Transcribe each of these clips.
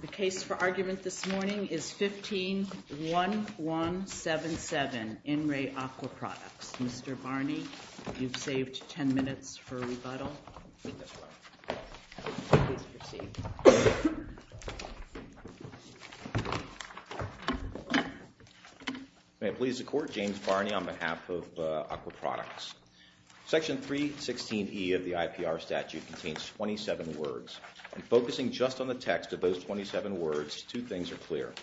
The case for argument this morning is 15-1177, In Re Aqua Products. Mr. Barney, you've saved 10 minutes for rebuttal. Please proceed. May it please the Court, James Barney on behalf of Aqua Products. Section 316E of the IPR statute contains 27 words. And focusing just on the text of those 27 words, two things are clear.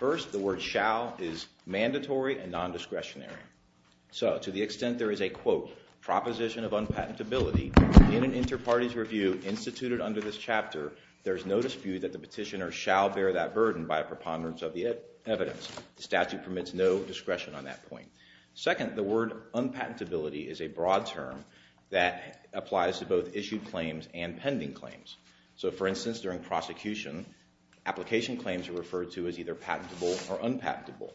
First, the word shall is mandatory and non-discretionary. So, to the extent there is a, quote, proposition of unpatentability in an inter-parties review instituted under this chapter, there is no dispute that the petitioner shall bear that burden by a preponderance of the evidence. The statute permits no discretion on that point. Second, the word unpatentability is a broad term that applies to both issued claims and pending claims. So, for instance, during prosecution, application claims are referred to as either patentable or unpatentable.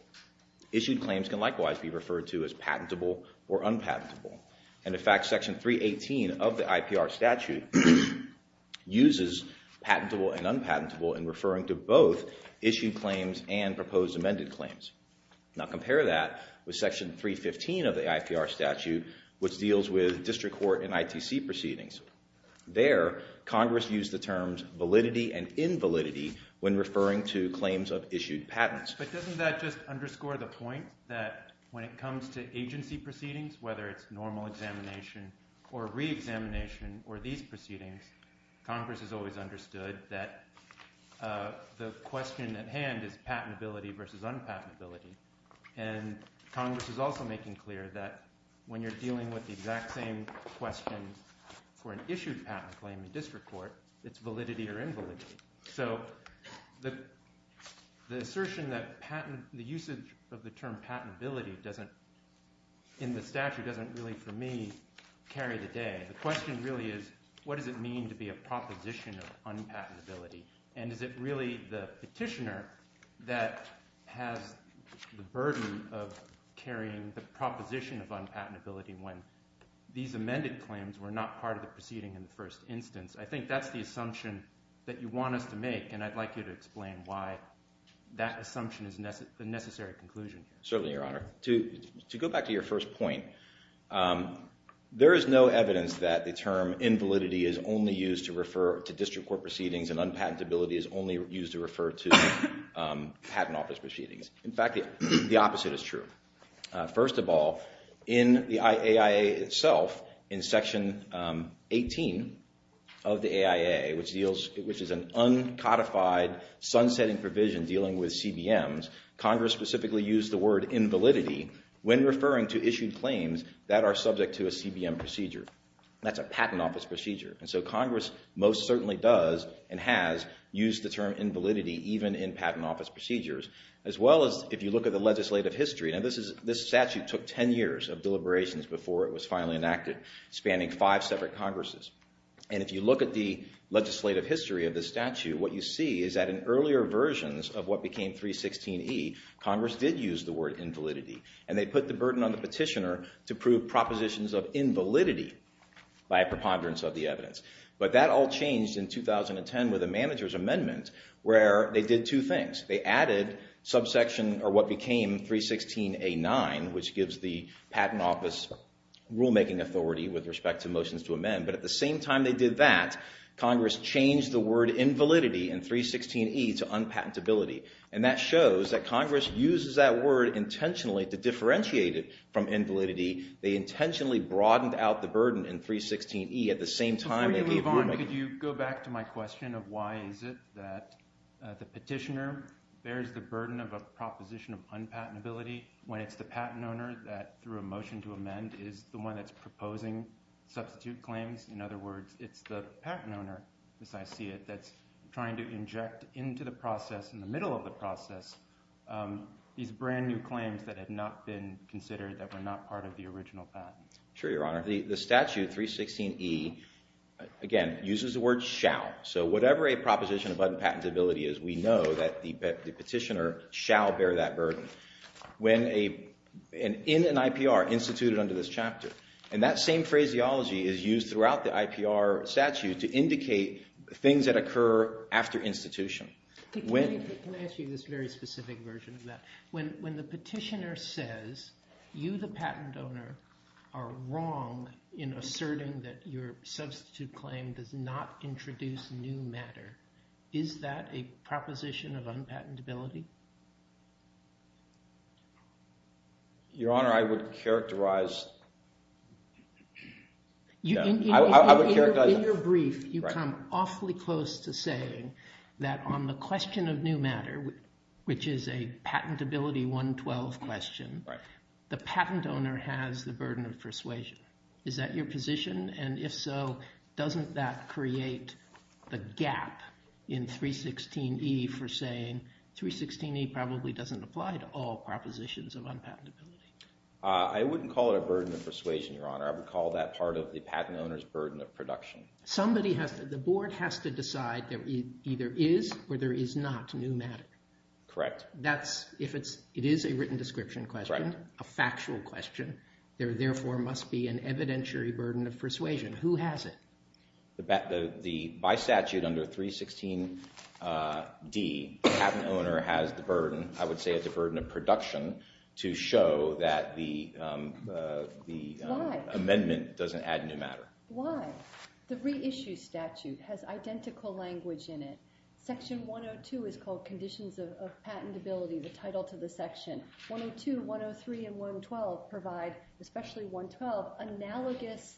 Issued claims can likewise be referred to as patentable or unpatentable. And, in fact, Section 318 of the IPR statute uses patentable and unpatentable in referring to both issued claims and proposed amended claims. Now, compare that with Section 315 of the IPR statute, which deals with district court and ITC proceedings. There, Congress used the terms validity and invalidity when referring to claims of issued patents. But doesn't that just underscore the point that when it comes to agency proceedings, whether it's normal examination or re-examination or these proceedings, Congress has always understood that the question at hand is patentability versus unpatentability. And Congress is also making clear that when you're dealing with the exact same question for an issued patent claim in district court, it's validity or invalidity. So the assertion that patent – the usage of the term patentability doesn't – in the statute doesn't really, for me, carry the day. The question really is, what does it mean to be a proposition of unpatentability? And is it really the petitioner that has the burden of carrying the proposition of unpatentability when these amended claims were not part of the proceeding in the first instance? I think that's the assumption that you want us to make, and I'd like you to explain why that assumption is the necessary conclusion. Certainly, Your Honor. To go back to your first point, there is no evidence that the term invalidity is only used to refer to district court proceedings and unpatentability is only used to refer to patent office proceedings. In fact, the opposite is true. First of all, in the AIA itself, in Section 18 of the AIA, which deals – which is an uncodified, sun-setting provision dealing with CBMs, Congress specifically used the word invalidity when referring to issued claims that are subject to a CBM procedure. That's a patent office procedure. And so Congress most certainly does and has used the term invalidity even in patent office procedures, as well as if you look at the legislative history. Now, this statute took ten years of deliberations before it was finally enacted, spanning five separate Congresses. And if you look at the legislative history of this statute, what you see is that in earlier versions of what became 316E, Congress did use the word invalidity, and they put the burden on the petitioner to prove propositions of invalidity by a preponderance of the evidence. But that all changed in 2010 with a manager's amendment where they did two things. They added subsection – or what became 316A9, which gives the patent office rulemaking authority with respect to motions to amend. But at the same time they did that, Congress changed the word invalidity in 316E to unpatentability. And that shows that Congress uses that word intentionally to differentiate it from invalidity. They intentionally broadened out the burden in 316E at the same time they gave – Yvonne, could you go back to my question of why is it that the petitioner bears the burden of a proposition of unpatentability when it's the patent owner that, through a motion to amend, is the one that's proposing substitute claims? In other words, it's the patent owner, as I see it, that's trying to inject into the process, in the middle of the process, these brand new claims that had not been considered, that were not part of the original patent. Sure, Your Honor. The statute, 316E, again, uses the word shall. So whatever a proposition of unpatentability is, we know that the petitioner shall bear that burden. In an IPR, instituted under this chapter, and that same phraseology is used throughout the IPR statute to indicate things that occur after institution. Can I ask you this very specific version of that? When the petitioner says you, the patent owner, are wrong in asserting that your substitute claim does not introduce new matter, is that a proposition of unpatentability? Your Honor, I would characterize – In your brief, you come awfully close to saying that on the question of new matter, which is a patentability 112 question, the patent owner has the burden of persuasion. Is that your position? And if so, doesn't that create the gap in 316E for saying 316E probably doesn't apply to all propositions of unpatentability? I wouldn't call it a burden of persuasion, Your Honor. I would call that part of the patent owner's burden of production. Somebody has to – the board has to decide there either is or there is not new matter. Correct. That's – if it is a written description question, a factual question, there therefore must be an evidentiary burden of persuasion. Who has it? By statute under 316D, the patent owner has the burden, I would say, of the burden of production to show that the amendment doesn't add new matter. Why? The reissue statute has identical language in it. Section 102 is called conditions of patentability, the title to the section. 102, 103, and 112 provide, especially 112, analogous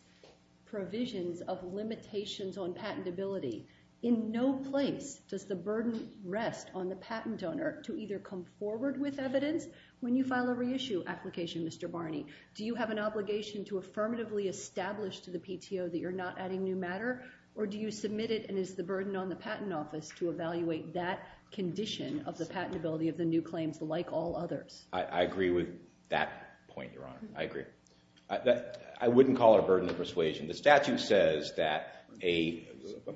provisions of limitations on patentability. In no place does the burden rest on the patent owner to either come forward with evidence when you file a reissue application, Mr. Barney. Do you have an obligation to affirmatively establish to the PTO that you're not adding new matter, or do you submit it and it's the burden on the patent office to evaluate that condition of the patentability of the new claims like all others? I agree with that point, Your Honor. I agree. I wouldn't call it a burden of persuasion. The statute says that a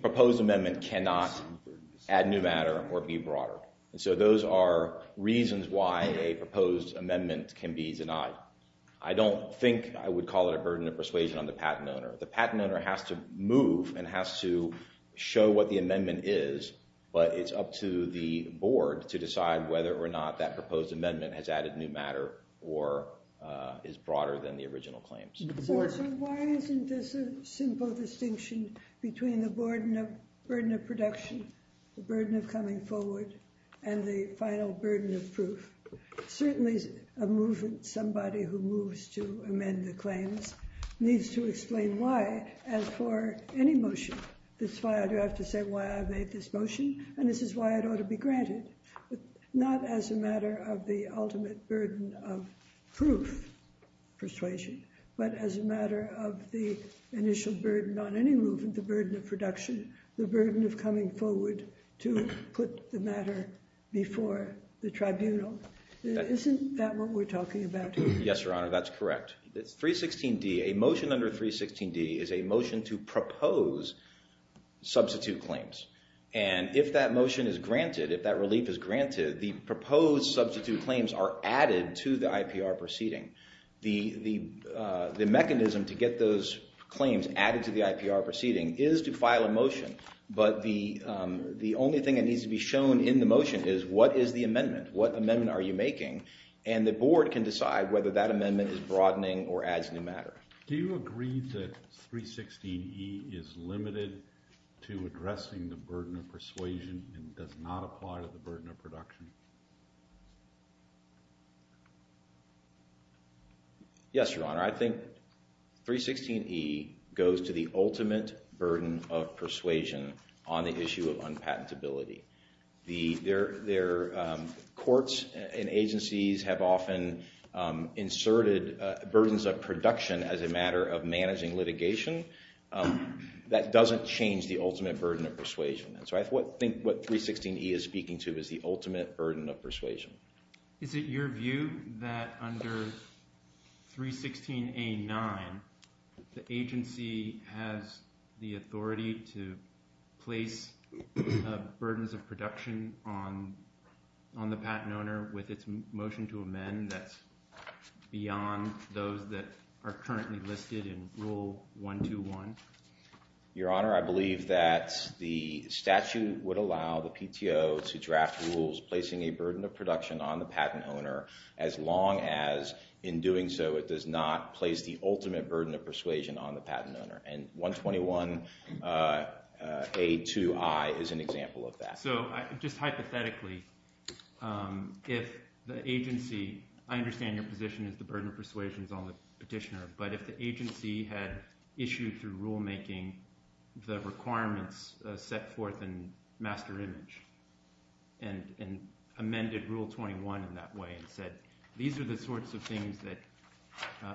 proposed amendment cannot add new matter or be broader. And so those are reasons why a proposed amendment can be denied. I don't think I would call it a burden of persuasion on the patent owner. The patent owner has to move and has to show what the amendment is, but it's up to the board to decide whether or not that proposed amendment has added new matter or is broader than the original claims. So why isn't this a simple distinction between the burden of production, the burden of coming forward, and the final burden of proof? Certainly a movement, somebody who moves to amend the claims, needs to explain why, as for any motion. That's why I do have to say why I made this motion, and this is why it ought to be granted. Not as a matter of the ultimate burden of proof, persuasion, but as a matter of the initial burden on any movement, the burden of production, the burden of coming forward to put the matter before the tribunal. Isn't that what we're talking about? Yes, Your Honor, that's correct. 316d, a motion under 316d, is a motion to propose substitute claims. And if that motion is granted, if that relief is granted, the proposed substitute claims are added to the IPR proceeding. The mechanism to get those claims added to the IPR proceeding is to file a motion, but the only thing that needs to be shown in the motion is what is the amendment? What amendment are you making? And the board can decide whether that amendment is broadening or adds new matter. Do you agree that 316e is limited to addressing the burden of persuasion and does not apply to the burden of production? Yes, Your Honor, I think 316e goes to the ultimate burden of persuasion on the issue of unpatentability. Courts and agencies have often inserted burdens of production as a matter of managing litigation. That doesn't change the ultimate burden of persuasion. So I think what 316e is speaking to is the ultimate burden of persuasion. Is it your view that under 316a-9, the agency has the authority to place burdens of production on the patent owner with its motion to amend that's beyond those that are currently listed in Rule 121? Your Honor, I believe that the statute would allow the PTO to draft rules placing a burden of production on the patent owner as long as in doing so it does not place the ultimate burden of persuasion on the patent owner. And 121a-2i is an example of that. So just hypothetically, if the agency – I understand your position is the burden of persuasion is on the petitioner. But if the agency had issued through rulemaking the requirements set forth in master image and amended Rule 21 in that way and said these are the sorts of things that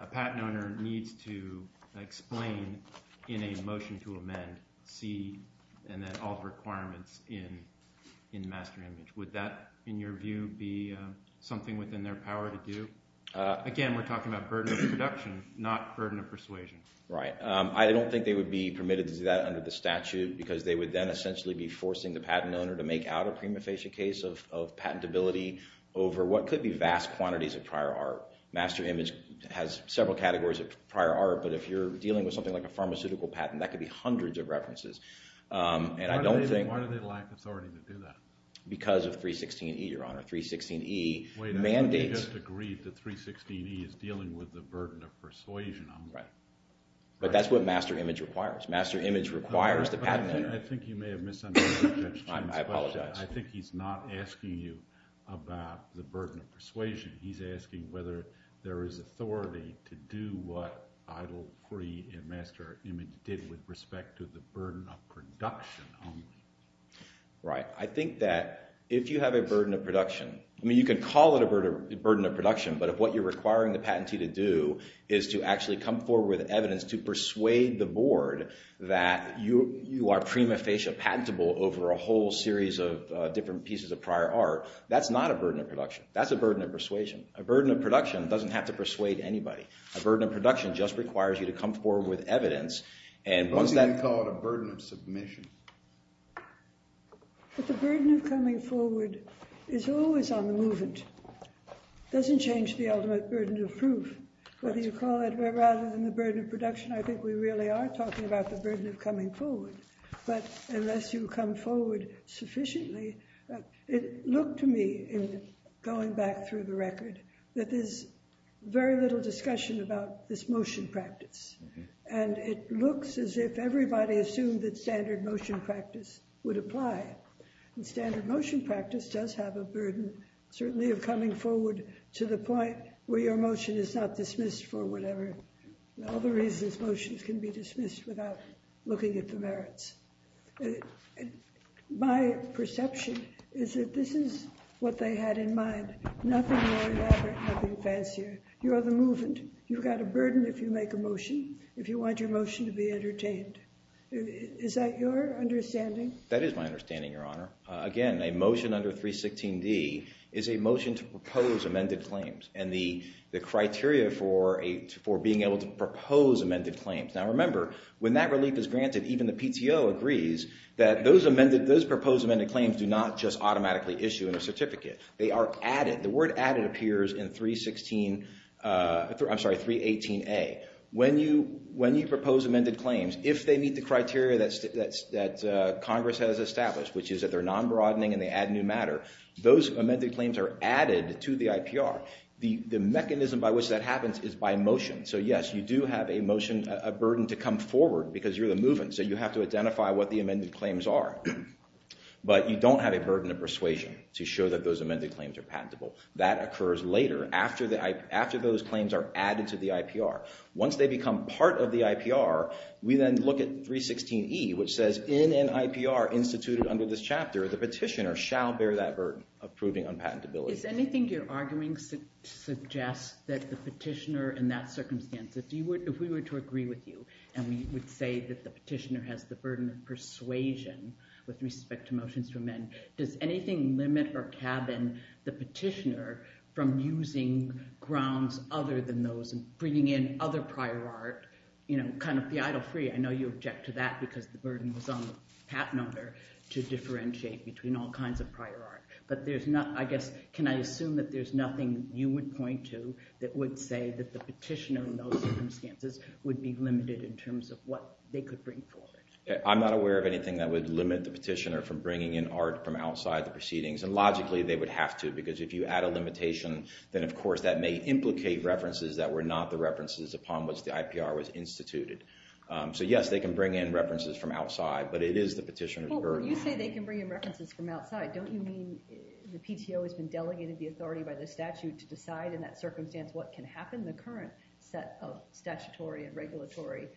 a patent owner needs to explain in a motion to amend, see, and then all the requirements in master image. Would that, in your view, be something within their power to do? Again, we're talking about burden of production, not burden of persuasion. Right. I don't think they would be permitted to do that under the statute because they would then essentially be forcing the patent owner to make out a prima facie case of patentability over what could be vast quantities of prior art. Master image has several categories of prior art, but if you're dealing with something like a pharmaceutical patent, that could be hundreds of references. And I don't think – Why do they lack authority to do that? Because of 316e, Your Honor. 316e mandates – Because of 316e is dealing with the burden of persuasion only. Right. But that's what master image requires. Master image requires the patent owner – I think you may have misunderstood the question. I apologize. I think he's not asking you about the burden of persuasion. He's asking whether there is authority to do what Eidel, Pree, and master image did with respect to the burden of production only. Right. I think that if you have a burden of production – I mean, you can call it a burden of production, but if what you're requiring the patentee to do is to actually come forward with evidence to persuade the board that you are prima facie patentable over a whole series of different pieces of prior art, that's not a burden of production. That's a burden of persuasion. A burden of production doesn't have to persuade anybody. A burden of production just requires you to come forward with evidence, and once that – But the burden of coming forward is always on the movement. It doesn't change the ultimate burden of proof. Whether you call it rather than the burden of production, I think we really are talking about the burden of coming forward. But unless you come forward sufficiently – it looked to me in going back through the record that there's very little discussion about this motion practice, and it looks as if everybody assumed that standard motion practice would apply. And standard motion practice does have a burden, certainly, of coming forward to the point where your motion is not dismissed for whatever – all the reasons motions can be dismissed without looking at the merits. My perception is that this is what they had in mind. Nothing more elaborate, nothing fancier. You are the movement. You've got a burden if you make a motion, if you want your motion to be entertained. Is that your understanding? That is my understanding, Your Honor. Again, a motion under 316D is a motion to propose amended claims and the criteria for being able to propose amended claims. Now, remember, when that relief is granted, even the PTO agrees that those proposed amended claims do not just automatically issue in a certificate. They are added. The word added appears in 316 – I'm sorry, 318A. When you propose amended claims, if they meet the criteria that Congress has established, which is that they're non-broadening and they add new matter, those amended claims are added to the IPR. The mechanism by which that happens is by motion. So, yes, you do have a motion – a burden to come forward because you're the movement, so you have to identify what the amended claims are. But you don't have a burden of persuasion to show that those amended claims are patentable. That occurs later, after those claims are added to the IPR. Once they become part of the IPR, we then look at 316E, which says, in an IPR instituted under this chapter, the petitioner shall bear that burden of proving unpatentability. Is anything you're arguing suggests that the petitioner, in that circumstance, if we were to agree with you and we would say that the petitioner has the burden of persuasion with respect to motions from men, does anything limit or cabin the petitioner from using grounds other than those and bringing in other prior art, you know, kind of the idle free? I know you object to that because the burden was on the patent owner to differentiate between all kinds of prior art. But there's not, I guess, can I assume that there's nothing you would point to that would say that the petitioner in those circumstances would be limited in terms of what they could bring forward? I'm not aware of anything that would limit the petitioner from bringing in art from outside the proceedings. And logically, they would have to, because if you add a limitation, then of course that may implicate references that were not the references upon which the IPR was instituted. But yes, they can bring in references from outside. But it is the petitioner's burden. Well, when you say they can bring in references from outside, don't you mean the PTO has been delegated the authority by the statute to decide in that circumstance what can happen? The current set of statutory and regulatory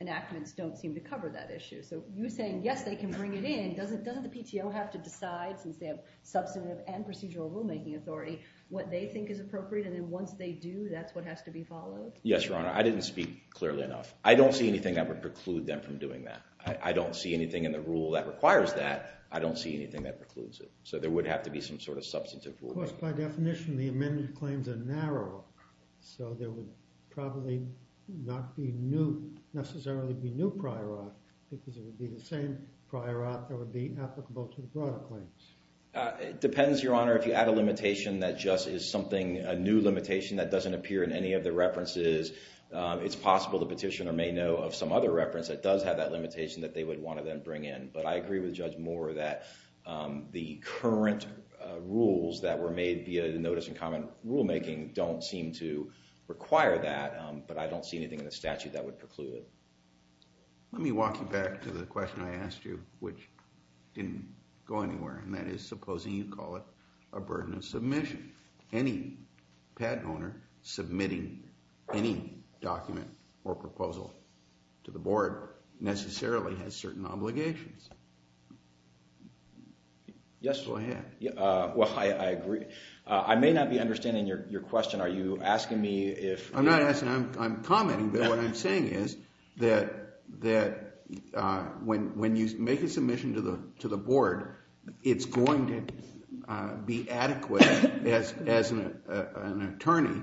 enactments don't seem to cover that issue. So you're saying, yes, they can bring it in. Doesn't the PTO have to decide, since they have substantive and procedural rulemaking authority, what they think is appropriate? And then once they do, that's what has to be followed? Yes, Your Honor. I didn't speak clearly enough. I don't see anything that would preclude them from doing that. I don't see anything in the rule that requires that. I don't see anything that precludes it. So there would have to be some sort of substantive rulemaking. Of course, by definition, the amended claims are narrow. So there would probably not necessarily be new prior art, because it would be the same prior art that would be applicable to the broader claims. It depends, Your Honor. If you add a limitation that just is something, a new limitation that doesn't appear in any of the references, it's possible the petitioner may know of some other reference that does have that limitation that they would want to then bring in. But I agree with Judge Moore that the current rules that were made via the notice and comment rulemaking don't seem to require that. But I don't see anything in the statute that would preclude it. Let me walk you back to the question I asked you, which didn't go anywhere, and that is supposing you call it a burden of submission. Any patent owner submitting any document or proposal to the board necessarily has certain obligations. Yes, Your Honor. Well, I agree. I may not be understanding your question. Are you asking me if… I'm not asking. I'm commenting, but what I'm saying is that when you make a submission to the board, it's going to be adequate as an attorney.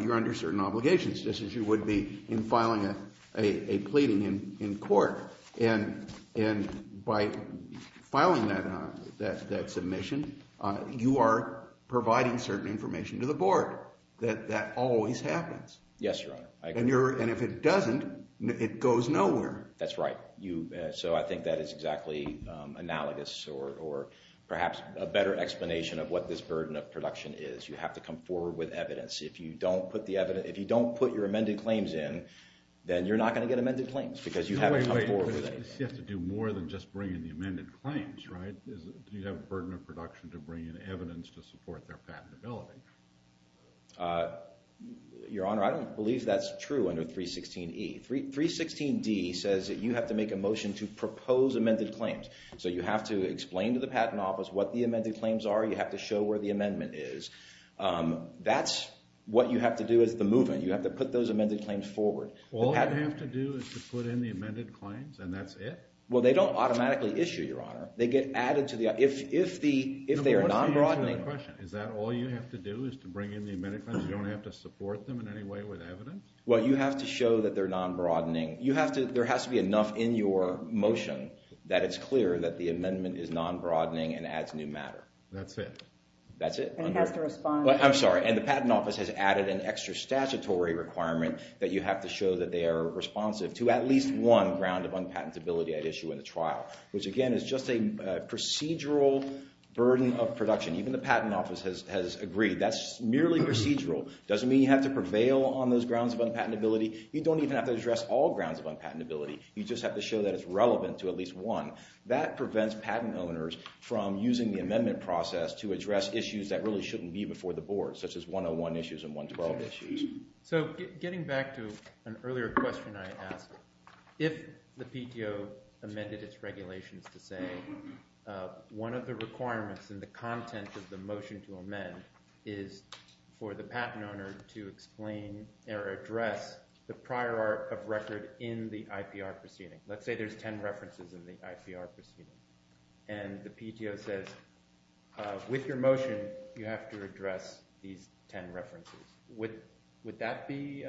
You're under certain obligations, just as you would be in filing a pleading in court. And by filing that submission, you are providing certain information to the board. That always happens. Yes, Your Honor. I agree. And if it doesn't, it goes nowhere. That's right. So I think that is exactly analogous or perhaps a better explanation of what this burden of production is. You have to come forward with evidence. If you don't put your amended claims in, then you're not going to get amended claims because you haven't come forward with anything. You have to do more than just bring in the amended claims, right? You have a burden of production to bring in evidence to support their patentability. Your Honor, I don't believe that's true under 316E. 316D says that you have to make a motion to propose amended claims. So you have to explain to the patent office what the amended claims are. You have to show where the amendment is. That's what you have to do as the movement. You have to put those amended claims forward. All I have to do is to put in the amended claims and that's it? Well, they don't automatically issue, Your Honor. They get added to the… But what's the answer to that question? Is that all you have to do is to bring in the amended claims? You don't have to support them in any way with evidence? Well, you have to show that they're non-broadening. There has to be enough in your motion that it's clear that the amendment is non-broadening and adds new matter. That's it? That's it. And it has to respond… Which again is just a procedural burden of production. Even the patent office has agreed. That's merely procedural. It doesn't mean you have to prevail on those grounds of unpatentability. You don't even have to address all grounds of unpatentability. You just have to show that it's relevant to at least one. That prevents patent owners from using the amendment process to address issues that really shouldn't be before the board, such as 101 issues and 112 issues. So getting back to an earlier question I asked, if the PTO amended its regulations to say one of the requirements in the content of the motion to amend is for the patent owner to explain or address the prior art of record in the IPR proceeding. Let's say there's 10 references in the IPR proceeding. And the PTO says, with your motion, you have to address these 10 references. Would that be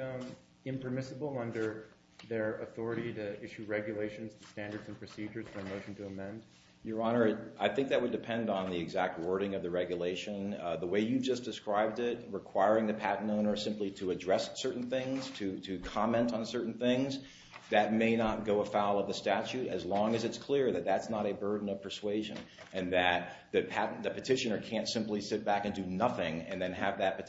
impermissible under their authority to issue regulations, standards, and procedures for a motion to amend? Your Honor, I think that would depend on the exact wording of the regulation. The way you just described it, requiring the patent owner simply to address certain things, to comment on certain things, that may not go afoul of the statute as long as it's clear that that's not a burden of persuasion and that the petitioner can't simply sit back and do nothing and then have that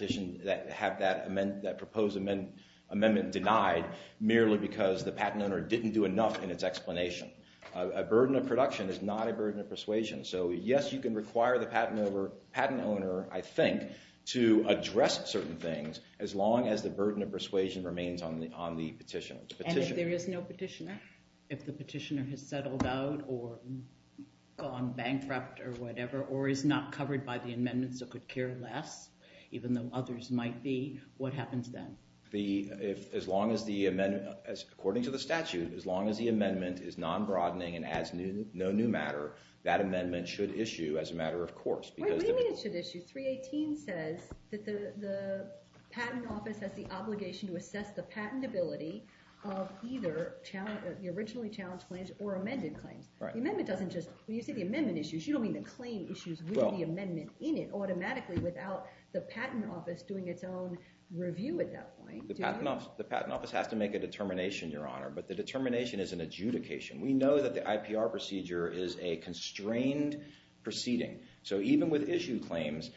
proposed amendment denied merely because the patent owner didn't do enough in its explanation. A burden of production is not a burden of persuasion. So yes, you can require the patent owner, I think, to address certain things as long as the burden of persuasion remains on the petitioner. And if there is no petitioner? If the petitioner has settled out or gone bankrupt or whatever or is not covered by the amendments or could care less, even though others might be, what happens then? According to the statute, as long as the amendment is non-broadening and adds no new matter, that amendment should issue as a matter of course. Wait, what do you mean it should issue? 318 says that the patent office has the obligation to assess the patentability of either the originally challenged claims or amended claims. The amendment doesn't just, when you say the amendment issues, you don't mean the claim issues with the amendment in it automatically without the patent office doing its own review at that point, do you? The patent office has to make a determination, Your Honor, but the determination is an adjudication. We know that the IPR procedure is a constrained proceeding. So even with issue claims,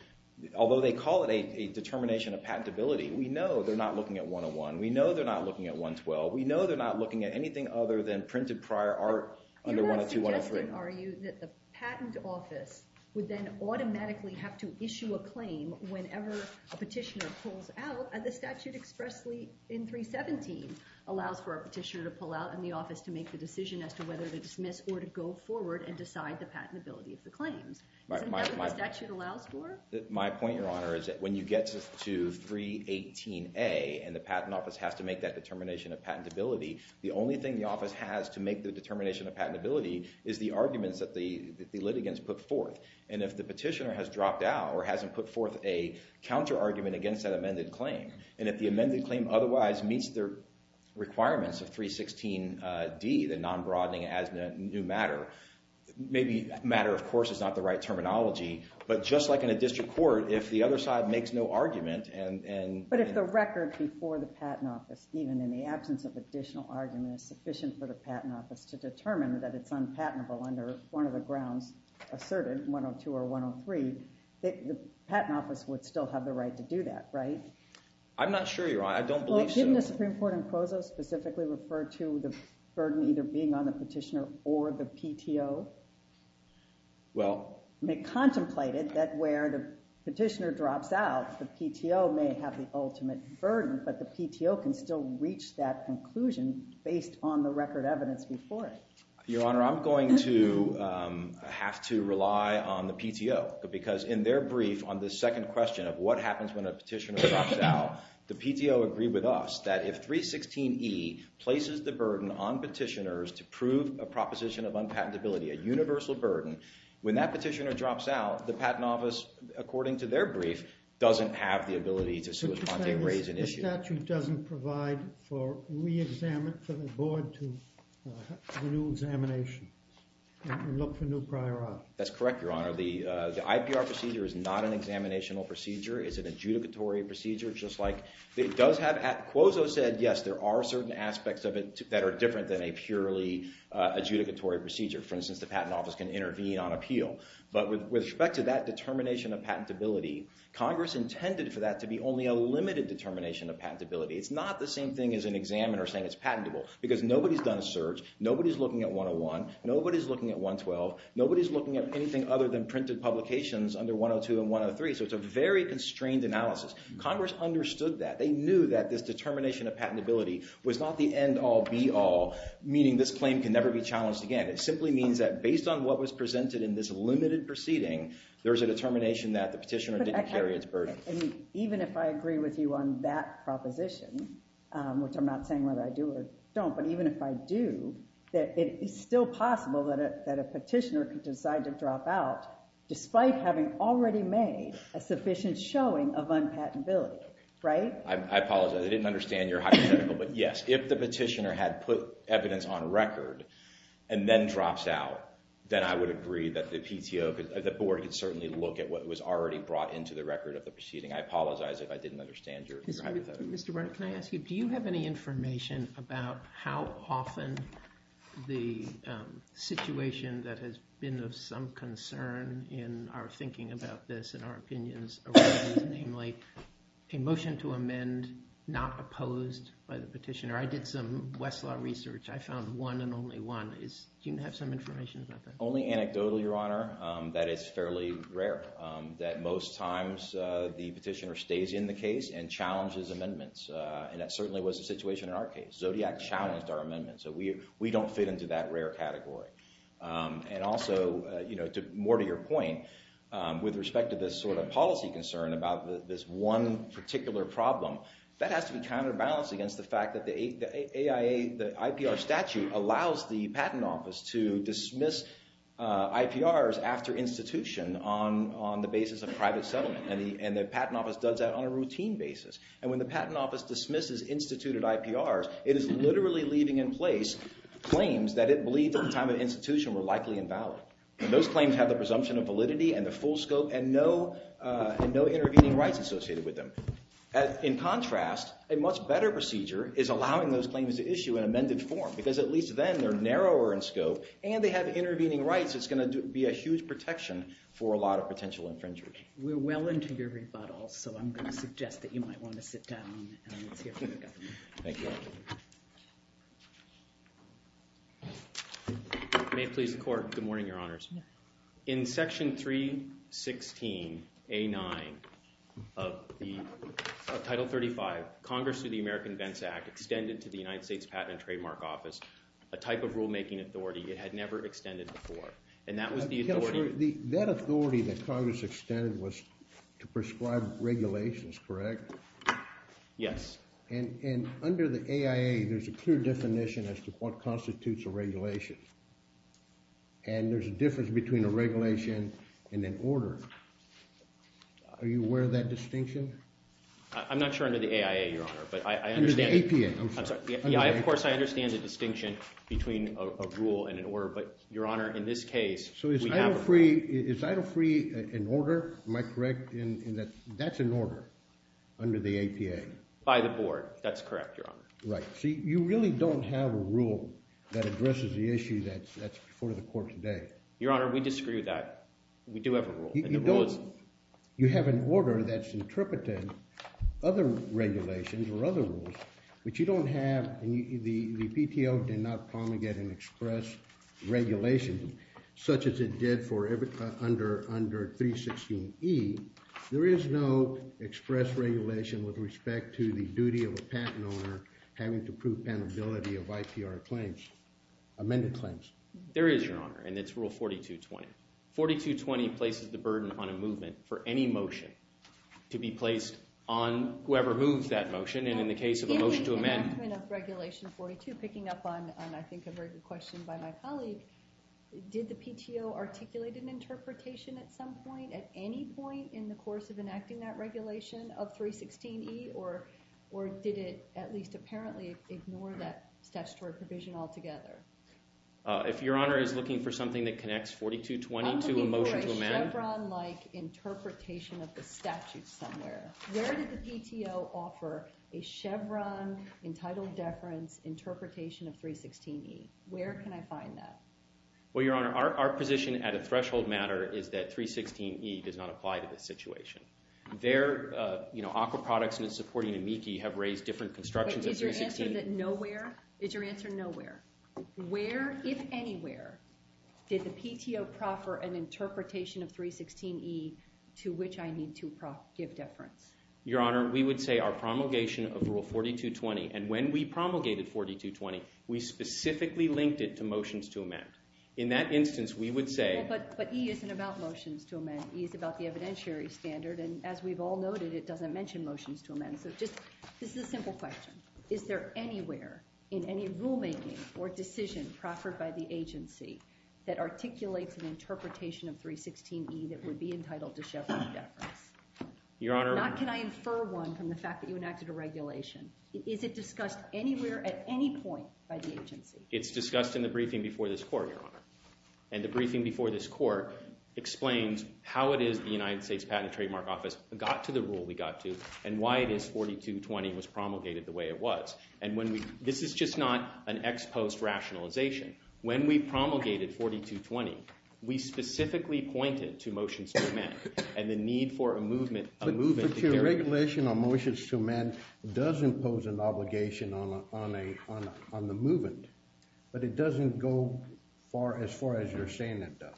although they call it a determination of patentability, we know they're not looking at 101, we know they're not looking at 112, we know they're not looking at anything other than printed prior art under 102-103. You're not suggesting, are you, that the patent office would then automatically have to issue a claim whenever a petitioner pulls out, as the statute expressly in 317 allows for a petitioner to pull out and the office to make the decision as to whether to dismiss or to go forward and decide the patentability of the claims. Is that what the statute allows for? My point, Your Honor, is that when you get to 318A and the patent office has to make that determination of patentability, the only thing the office has to make the determination of patentability is the arguments that the litigants put forth. And if the petitioner has dropped out or hasn't put forth a counter-argument against that amended claim, and if the amended claim otherwise meets the requirements of 316D, the non-broadening as new matter, maybe matter, of course, is not the right terminology, but just like in a district court, if the other side makes no argument and... If the record before the patent office, even in the absence of additional argument, is sufficient for the patent office to determine that it's unpatentable under one of the grounds asserted, 102 or 103, the patent office would still have the right to do that, right? I'm not sure, Your Honor. I don't believe so. Your Honor, I'm going to have to rely on the PTO, because in their brief on the second question of what happens when a petitioner drops out, the PTO agreed with us that if 316E places the burden on petitioners to prove a proposition of unpatentability, a universal burden, when that petitioner drops out, the patent office, according to their brief, doesn't have the ability to... The statute doesn't provide for re-examination, for the board to have a new examination and look for new priority. That's correct, Your Honor. The IPR procedure is not an examinational procedure. It's an adjudicatory procedure, just like it does have... Congress intended for that to be only a limited determination of patentability. It's not the same thing as an examiner saying it's patentable, because nobody's done a search, nobody's looking at 101, nobody's looking at 112, nobody's looking at anything other than printed publications under 102 and 103, so it's a very constrained analysis. Congress understood that. They knew that this determination of patentability was not the end-all, be-all, meaning this claim can never be challenged again. It simply means that based on what was presented in this limited proceeding, there's a determination that the petitioner didn't carry its burden. Even if I agree with you on that proposition, which I'm not saying whether I do or don't, but even if I do, it's still possible that a petitioner could decide to drop out despite having already made a sufficient showing of unpatentability, right? I apologize. I didn't understand your hypothetical, but yes, if the petitioner had put evidence on record and then drops out, then I would agree that the PTO, the board could certainly look at what was already brought into the record of the proceeding. I apologize if I didn't understand your hypothetical. Mr. Breyer, can I ask you, do you have any information about how often the situation that has been of some concern in our thinking about this and our opinions around this, namely a motion to amend not opposed by the petitioner? I did some Westlaw research. I found one and only one. Do you have some information about that? Only anecdotal, Your Honor, that it's fairly rare that most times the petitioner stays in the case and challenges amendments. And that certainly was the situation in our case. Zodiac challenged our amendment, so we don't fit into that rare category. And also, more to your point, with respect to this sort of policy concern about this one particular problem, that has to be counterbalanced against the fact that the IPR statute allows the patent office to dismiss IPRs after institution on the basis of private settlement. And the patent office does that on a routine basis. And when the patent office dismisses instituted IPRs, it is literally leaving in place claims that it believed at the time of institution were likely invalid. And those claims have the presumption of validity and the full scope and no intervening rights associated with them. In contrast, a much better procedure is allowing those claims to issue in amended form, because at least then they're narrower in scope and they have intervening rights. It's going to be a huge protection for a lot of potential infringers. We're well into your rebuttal, so I'm going to suggest that you might want to sit down and let's hear from the government. Thank you. May it please the court. Good morning, your honors. In Section 316A9 of Title 35, Congress, through the American Vents Act, extended to the United States Patent and Trademark Office a type of rulemaking authority it had never extended before. And that was the authority— Counselor, that authority that Congress extended was to prescribe regulations, correct? Yes. And under the AIA, there's a clear definition as to what constitutes a regulation. And there's a difference between a regulation and an order. Are you aware of that distinction? I'm not sure under the AIA, your honor, but I understand— Under the APA, I'm sorry. Yeah, of course I understand the distinction between a rule and an order, but your honor, in this case, we have a rule. So is Ida Free an order? Am I correct in that that's an order under the APA? By the board, that's correct, your honor. Right. See, you really don't have a rule that addresses the issue that's before the court today. Your honor, we disagree with that. We do have a rule, and the rule is— You have an order that's interpreting other regulations or other rules, which you don't have. The PTO did not promulgate an express regulation such as it did for under 316E. There is no express regulation with respect to the duty of a patent owner having to prove penability of IPR claims, amended claims. There is, your honor, and it's Rule 4220. 4220 places the burden on a movement for any motion to be placed on whoever moves that motion, and in the case of a motion to amend— In the enactment of Regulation 42, picking up on, I think, a very good question by my colleague, did the PTO articulate an interpretation at some point, at any point in the course of enacting that regulation of 316E, or did it at least apparently ignore that statutory provision altogether? If your honor is looking for something that connects 4220 to a motion to amend— I'm looking for a Chevron-like interpretation of the statute somewhere. Where did the PTO offer a Chevron-entitled deference interpretation of 316E? Where can I find that? Well, your honor, our position at a threshold matter is that 316E does not apply to this situation. Their aqua products and its supporting amici have raised different constructions of 316— Is your answer that nowhere? Is your answer nowhere? Where, if anywhere, did the PTO proffer an interpretation of 316E to which I need to give deference? Your honor, we would say our promulgation of Rule 4220, and when we promulgated 4220, we specifically linked it to motions to amend. In that instance, we would say— But E isn't about motions to amend. E is about the evidentiary standard, and as we've all noted, it doesn't mention motions to amend. So just—this is a simple question. Is there anywhere in any rulemaking or decision proffered by the agency that articulates an interpretation of 316E that would be entitled to Chevron deference? Your honor— Not can I infer one from the fact that you enacted a regulation. Is it discussed anywhere at any point by the agency? It's discussed in the briefing before this court, your honor. And the briefing before this court explains how it is the United States Patent and Trademark Office got to the rule we got to and why it is 4220 was promulgated the way it was. And when we—this is just not an ex post rationalization. When we promulgated 4220, we specifically pointed to motions to amend and the need for a movement— The regulation on motions to amend does impose an obligation on the movement, but it doesn't go as far as you're saying it does.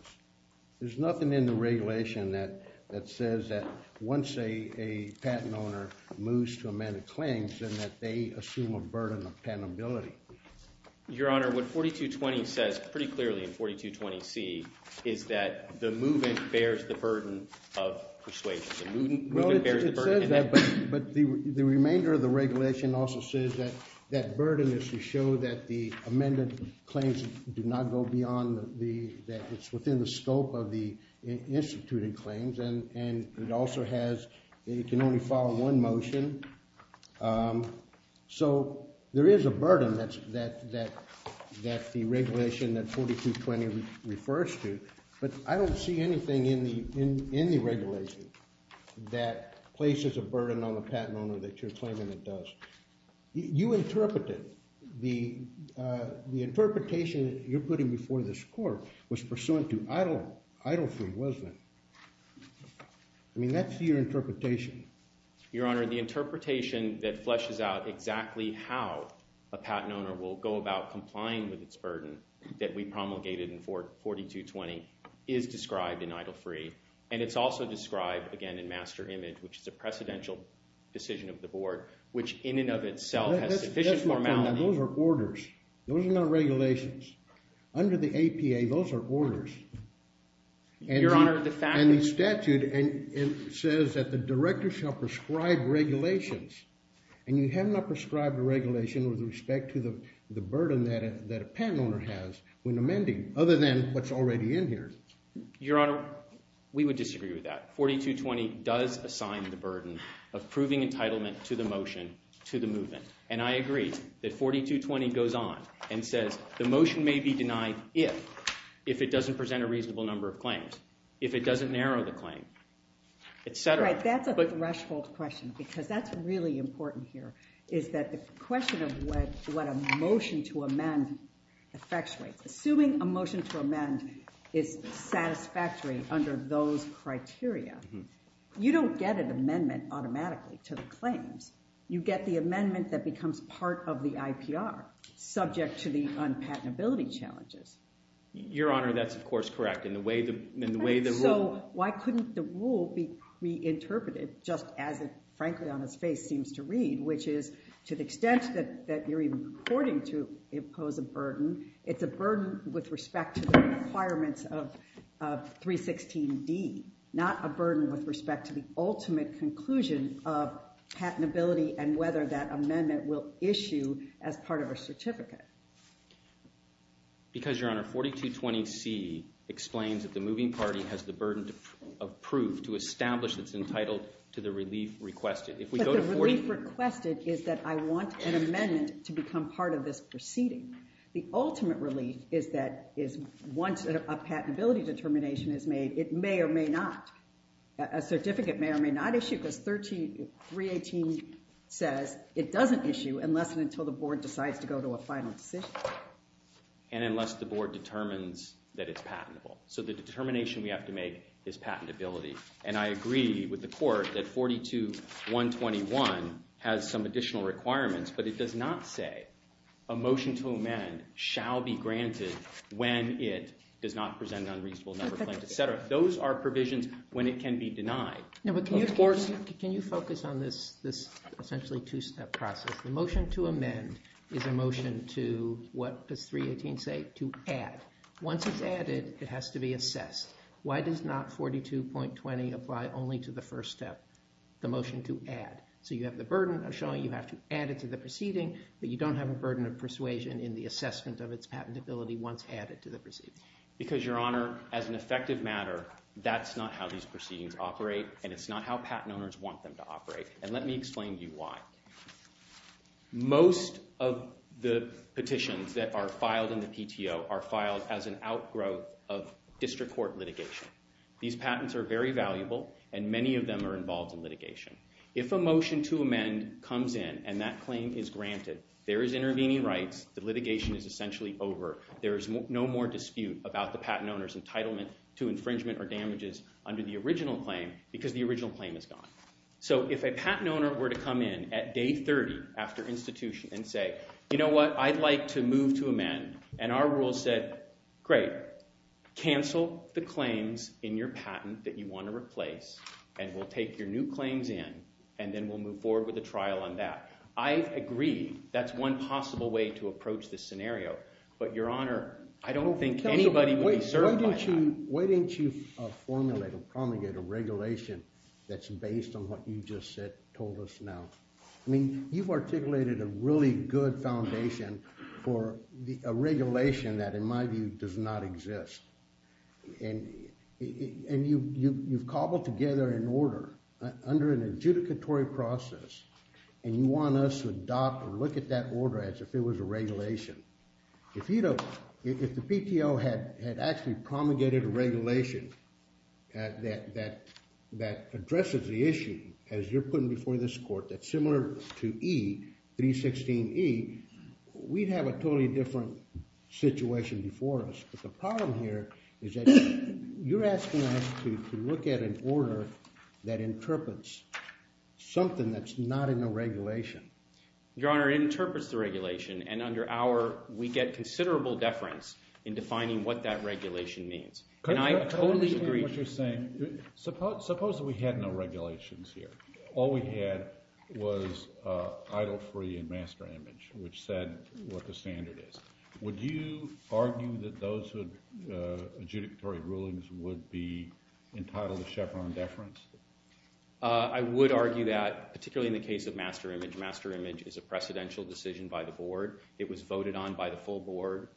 There's nothing in the regulation that says that once a patent owner moves to amend a claim, then that they assume a burden of patentability. Your honor, what 4220 says pretty clearly in 4220C is that the movement bears the burden of persuasion. Well, it says that, but the remainder of the regulation also says that that burden is to show that the amended claims do not go beyond the—that it's within the scope of the instituted claims. And it also has—it can only follow one motion. So there is a burden that the regulation that 4220 refers to, but I don't see anything in the regulation. That places a burden on the patent owner that you're claiming it does. You interpreted—the interpretation that you're putting before this court was pursuant to Idle Free, wasn't it? I mean, that's your interpretation. Your honor, the interpretation that fleshes out exactly how a patent owner will go about complying with its burden that we promulgated in 4220 is described in Idle Free. And it's also described, again, in Master Image, which is a precedential decision of the board, which in and of itself has sufficient formality— Those are orders. Those are not regulations. Under the APA, those are orders. Your honor, the fact is— And the statute says that the director shall prescribe regulations. And you have not prescribed a regulation with respect to the burden that a patent owner has when amending, other than what's already in here. Your honor, we would disagree with that. 4220 does assign the burden of proving entitlement to the motion to the movement. And I agree that 4220 goes on and says the motion may be denied if it doesn't present a reasonable number of claims, if it doesn't narrow the claim, et cetera. Right, that's a threshold question because that's really important here, is that the question of what a motion to amend effectuates. Assuming a motion to amend is satisfactory under those criteria, you don't get an amendment automatically to the claims. You get the amendment that becomes part of the IPR, subject to the unpatentability challenges. Your honor, that's, of course, correct. In the way the rule— It's a burden with respect to the requirements of 316D, not a burden with respect to the ultimate conclusion of patentability and whether that amendment will issue as part of a certificate. Because, your honor, 4220C explains that the moving party has the burden of proof to establish that's entitled to the relief requested. But the relief requested is that I want an amendment to become part of this proceeding. The ultimate relief is that once a patentability determination is made, it may or may not—a certificate may or may not issue because 318 says it doesn't issue unless and until the board decides to go to a final decision. And unless the board determines that it's patentable. So the determination we have to make is patentability. And I agree with the court that 42121 has some additional requirements, but it does not say a motion to amend shall be granted when it does not present an unreasonable number of claims, etc. Those are provisions when it can be denied. Can you focus on this essentially two-step process? The motion to amend is a motion to—what does 318 say? To add. Once it's added, it has to be assessed. Why does not 42.20 apply only to the first step, the motion to add? So you have the burden of showing you have to add it to the proceeding, but you don't have a burden of persuasion in the assessment of its patentability once added to the proceeding. Because, your honor, as an effective matter, that's not how these proceedings operate, and it's not how patent owners want them to operate. And let me explain to you why. Most of the petitions that are filed in the PTO are filed as an outgrowth of district court litigation. These patents are very valuable, and many of them are involved in litigation. If a motion to amend comes in and that claim is granted, there is intervening rights. The litigation is essentially over. There is no more dispute about the patent owner's entitlement to infringement or damages under the original claim because the original claim is gone. So if a patent owner were to come in at day 30 after institution and say, you know what, I'd like to move to amend. And our rule said, great, cancel the claims in your patent that you want to replace, and we'll take your new claims in, and then we'll move forward with a trial on that. I agree that's one possible way to approach this scenario. But, your honor, I don't think anybody would be served by that. Why didn't you formulate or promulgate a regulation that's based on what you just told us now? I mean, you've articulated a really good foundation for a regulation that, in my view, does not exist. And you've cobbled together an order under an adjudicatory process, and you want us to adopt and look at that order as if it was a regulation. If the PTO had actually promulgated a regulation that addresses the issue, as you're putting before this court, that's similar to E, 316E, we'd have a totally different situation before us. But the problem here is that you're asking us to look at an order that interprets something that's not in the regulation. Your honor, it interprets the regulation, and under our – we get considerable deference in defining what that regulation means. And I totally agree. Suppose we had no regulations here. All we had was idle, free, and master image, which said what the standard is. Would you argue that those adjudicatory rulings would be entitled to Chevron deference? I would argue that, particularly in the case of master image, master image is a precedential decision by the board. It was voted on by the full board,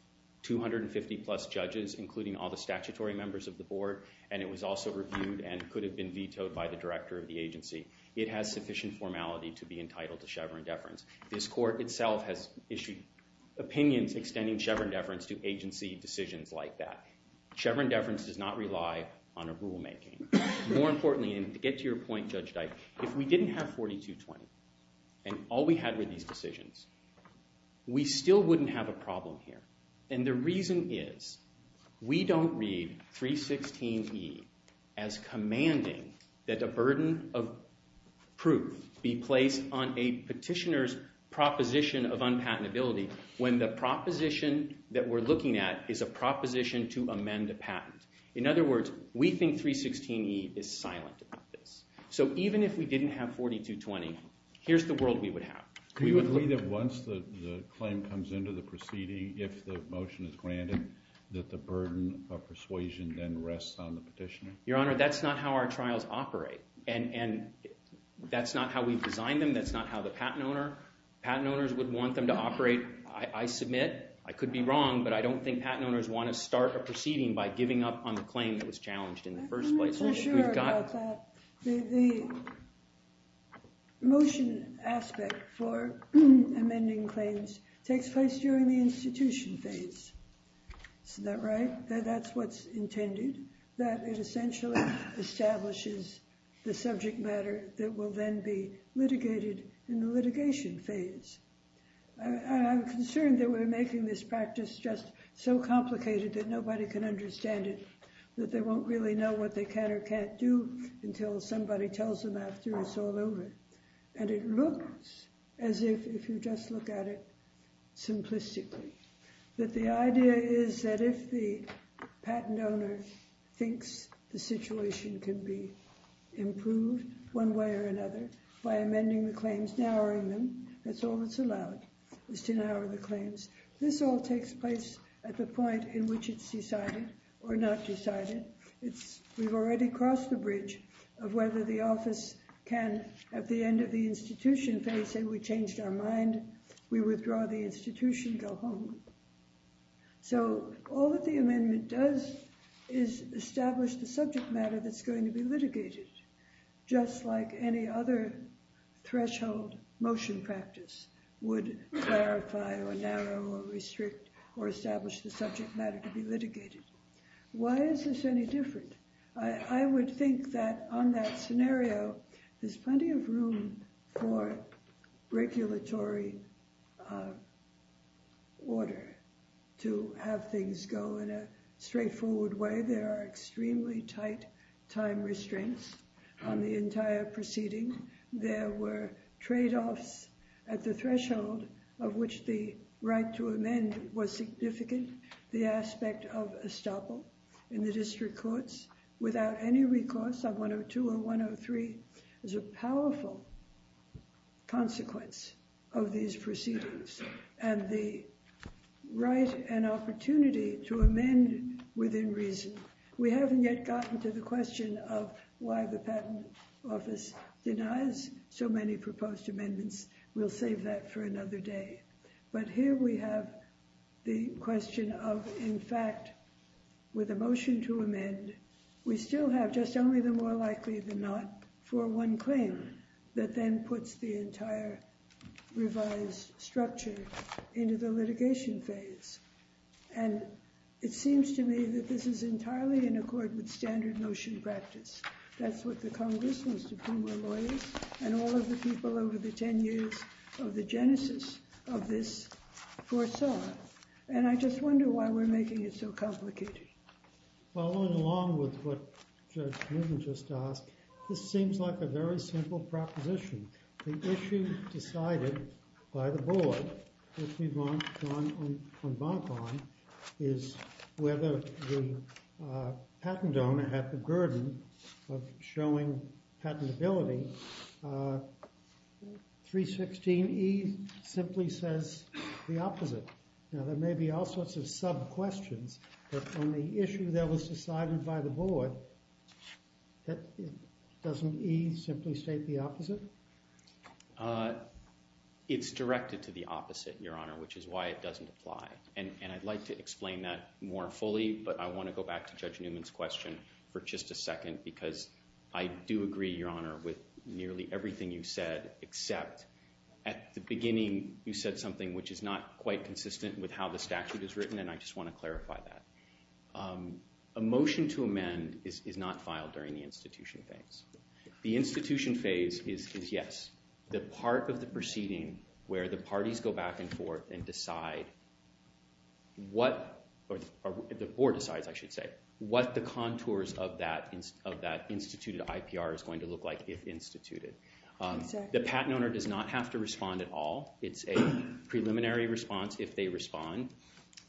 250-plus judges, including all the statutory members of the board, and it was also reviewed and could have been vetoed by the director of the agency. It has sufficient formality to be entitled to Chevron deference. This court itself has issued opinions extending Chevron deference to agency decisions like that. Chevron deference does not rely on a rulemaking. More importantly, and to get to your point, Judge Dike, if we didn't have 4220 and all we had were these decisions, we still wouldn't have a problem here. And the reason is we don't read 316E as commanding that a burden of proof be placed on a petitioner's proposition of unpatentability when the proposition that we're looking at is a proposition to amend a patent. In other words, we think 316E is silent about this. So even if we didn't have 4220, here's the world we would have. Do you agree that once the claim comes into the proceeding, if the motion is granted, that the burden of persuasion then rests on the petitioner? Your Honor, that's not how our trials operate, and that's not how we've designed them. That's not how the patent owners would want them to operate. I submit. I could be wrong, but I don't think patent owners want to start a proceeding by giving up on the claim that was challenged in the first place. I'm not so sure about that. The motion aspect for amending claims takes place during the institution phase. Isn't that right? That's what's intended, that it essentially establishes the subject matter that will then be litigated in the litigation phase. I'm concerned that we're making this practice just so complicated that nobody can understand it, that they won't really know what they can or can't do until somebody tells them after it's all over. And it looks as if you just look at it simplistically, that the idea is that if the patent owner thinks the situation can be improved one way or another by amending the claims, narrowing them, that's all that's allowed, is to narrow the claims. This all takes place at the point in which it's decided or not decided. We've already crossed the bridge of whether the office can, at the end of the institution phase, say we changed our mind, we withdraw the institution, go home. So all that the amendment does is establish the subject matter that's going to be litigated, just like any other threshold motion practice would clarify or narrow or restrict or establish the subject matter to be litigated. Why is this any different? I would think that on that scenario, there's plenty of room for regulatory order to have things go in a straightforward way. There are extremely tight time restraints on the entire proceeding. There were tradeoffs at the threshold of which the right to amend was significant. The aspect of estoppel in the district courts without any recourse of 102 or 103 is a powerful consequence of these proceedings. And the right and opportunity to amend within reason. We haven't yet gotten to the question of why the patent office denies so many proposed amendments. We'll save that for another day. But here we have the question of, in fact, with a motion to amend, we still have just only the more likely than not for one claim that then puts the entire revised structure into the litigation phase. And it seems to me that this is entirely in accord with standard motion practice. That's what the Congress, most of whom are lawyers, and all of the people over the 10 years of the genesis of this foresaw. And I just wonder why we're making it so complicated. Following along with what Judge Newton just asked, this seems like a very simple proposition. The issue decided by the board, which we've gone on bonk on, is whether the patent owner had the burden of showing patentability. 316E simply says the opposite. Now, there may be all sorts of sub-questions, but on the issue that was decided by the board, doesn't E simply state the opposite? It's directed to the opposite, Your Honor, which is why it doesn't apply. And I'd like to explain that more fully, but I want to go back to Judge Newman's question for just a second, because I do agree, Your Honor, with nearly everything you said, except at the beginning, you said something which is not quite consistent with how the statute is written, and I just want to clarify that. A motion to amend is not filed during the institution phase. The institution phase is, yes, the part of the proceeding where the parties go back and forth and decide what, or the board decides, I should say, what the contours of that instituted IPR is going to look like if instituted. The patent owner does not have to respond at all. It's a preliminary response if they respond,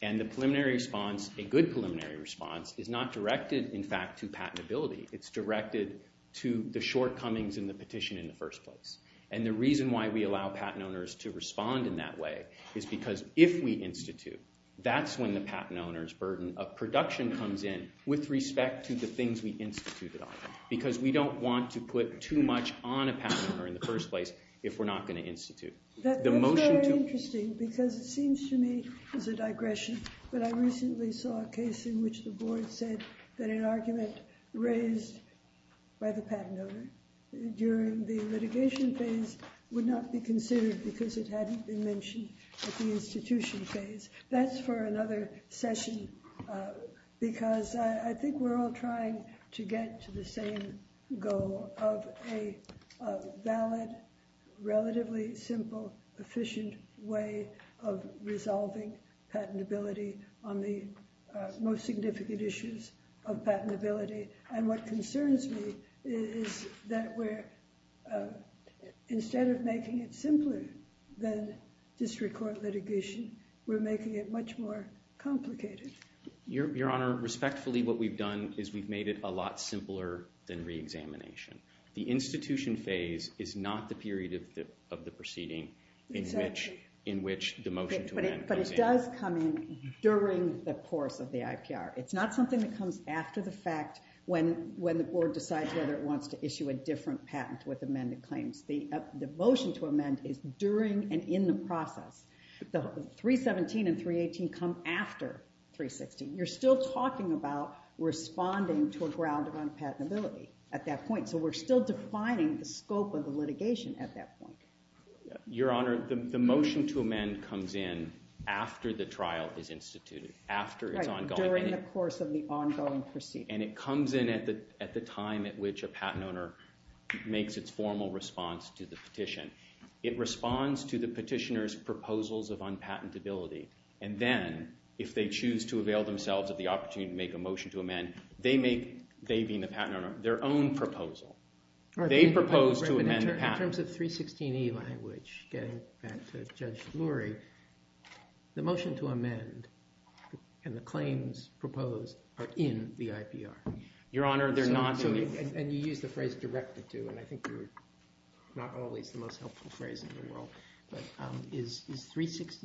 and the preliminary response, a good preliminary response, is not directed, in fact, to patentability. It's directed to the shortcomings in the petition in the first place. And the reason why we allow patent owners to respond in that way is because if we institute, that's when the patent owner's burden of production comes in with respect to the things we instituted on, because we don't want to put too much on a patent owner in the first place if we're not going to institute. That's very interesting, because it seems to me it's a digression, but I recently saw a case in which the board said that an argument raised by the patent owner during the litigation phase would not be considered because it hadn't been mentioned at the institution phase. That's for another session, because I think we're all trying to get to the same goal of a valid, relatively simple, efficient way of resolving patentability on the most significant issues of patentability. And what concerns me is that instead of making it simpler than district court litigation, we're making it much more complicated. Your Honor, respectfully, what we've done is we've made it a lot simpler than reexamination. The institution phase is not the period of the proceeding in which the motion to amend comes in. But it does come in during the course of the IPR. It's not something that comes after the fact when the board decides whether it wants to issue a different patent with amended claims. The motion to amend is during and in the process. The 317 and 318 come after 316. You're still talking about responding to a ground of unpatentability at that point, so we're still defining the scope of the litigation at that point. Your Honor, the motion to amend comes in after the trial is instituted, after it's ongoing. During the course of the ongoing proceeding. And it comes in at the time at which a patent owner makes its formal response to the petition. It responds to the petitioner's proposals of unpatentability. And then, if they choose to avail themselves of the opportunity to make a motion to amend, they make, they being the patent owner, their own proposal. They propose to amend the patent. In terms of 316E language, getting back to Judge Lurie, the motion to amend and the claims proposed are in the IPR. Your Honor, they're not in the IPR. And you used the phrase directed to, and I think you're not always the most helpful phrase in the world. But you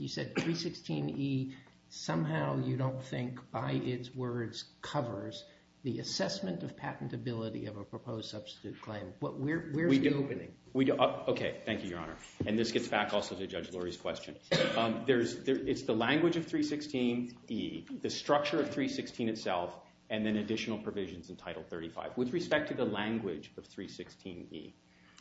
said 316E, somehow you don't think by its words covers the assessment of patentability of a proposed substitute claim. Where's the opening? Okay, thank you, Your Honor. And this gets back also to Judge Lurie's question. It's the language of 316E, the structure of 316 itself, and then additional provisions in Title 35. With respect to the language of 316E.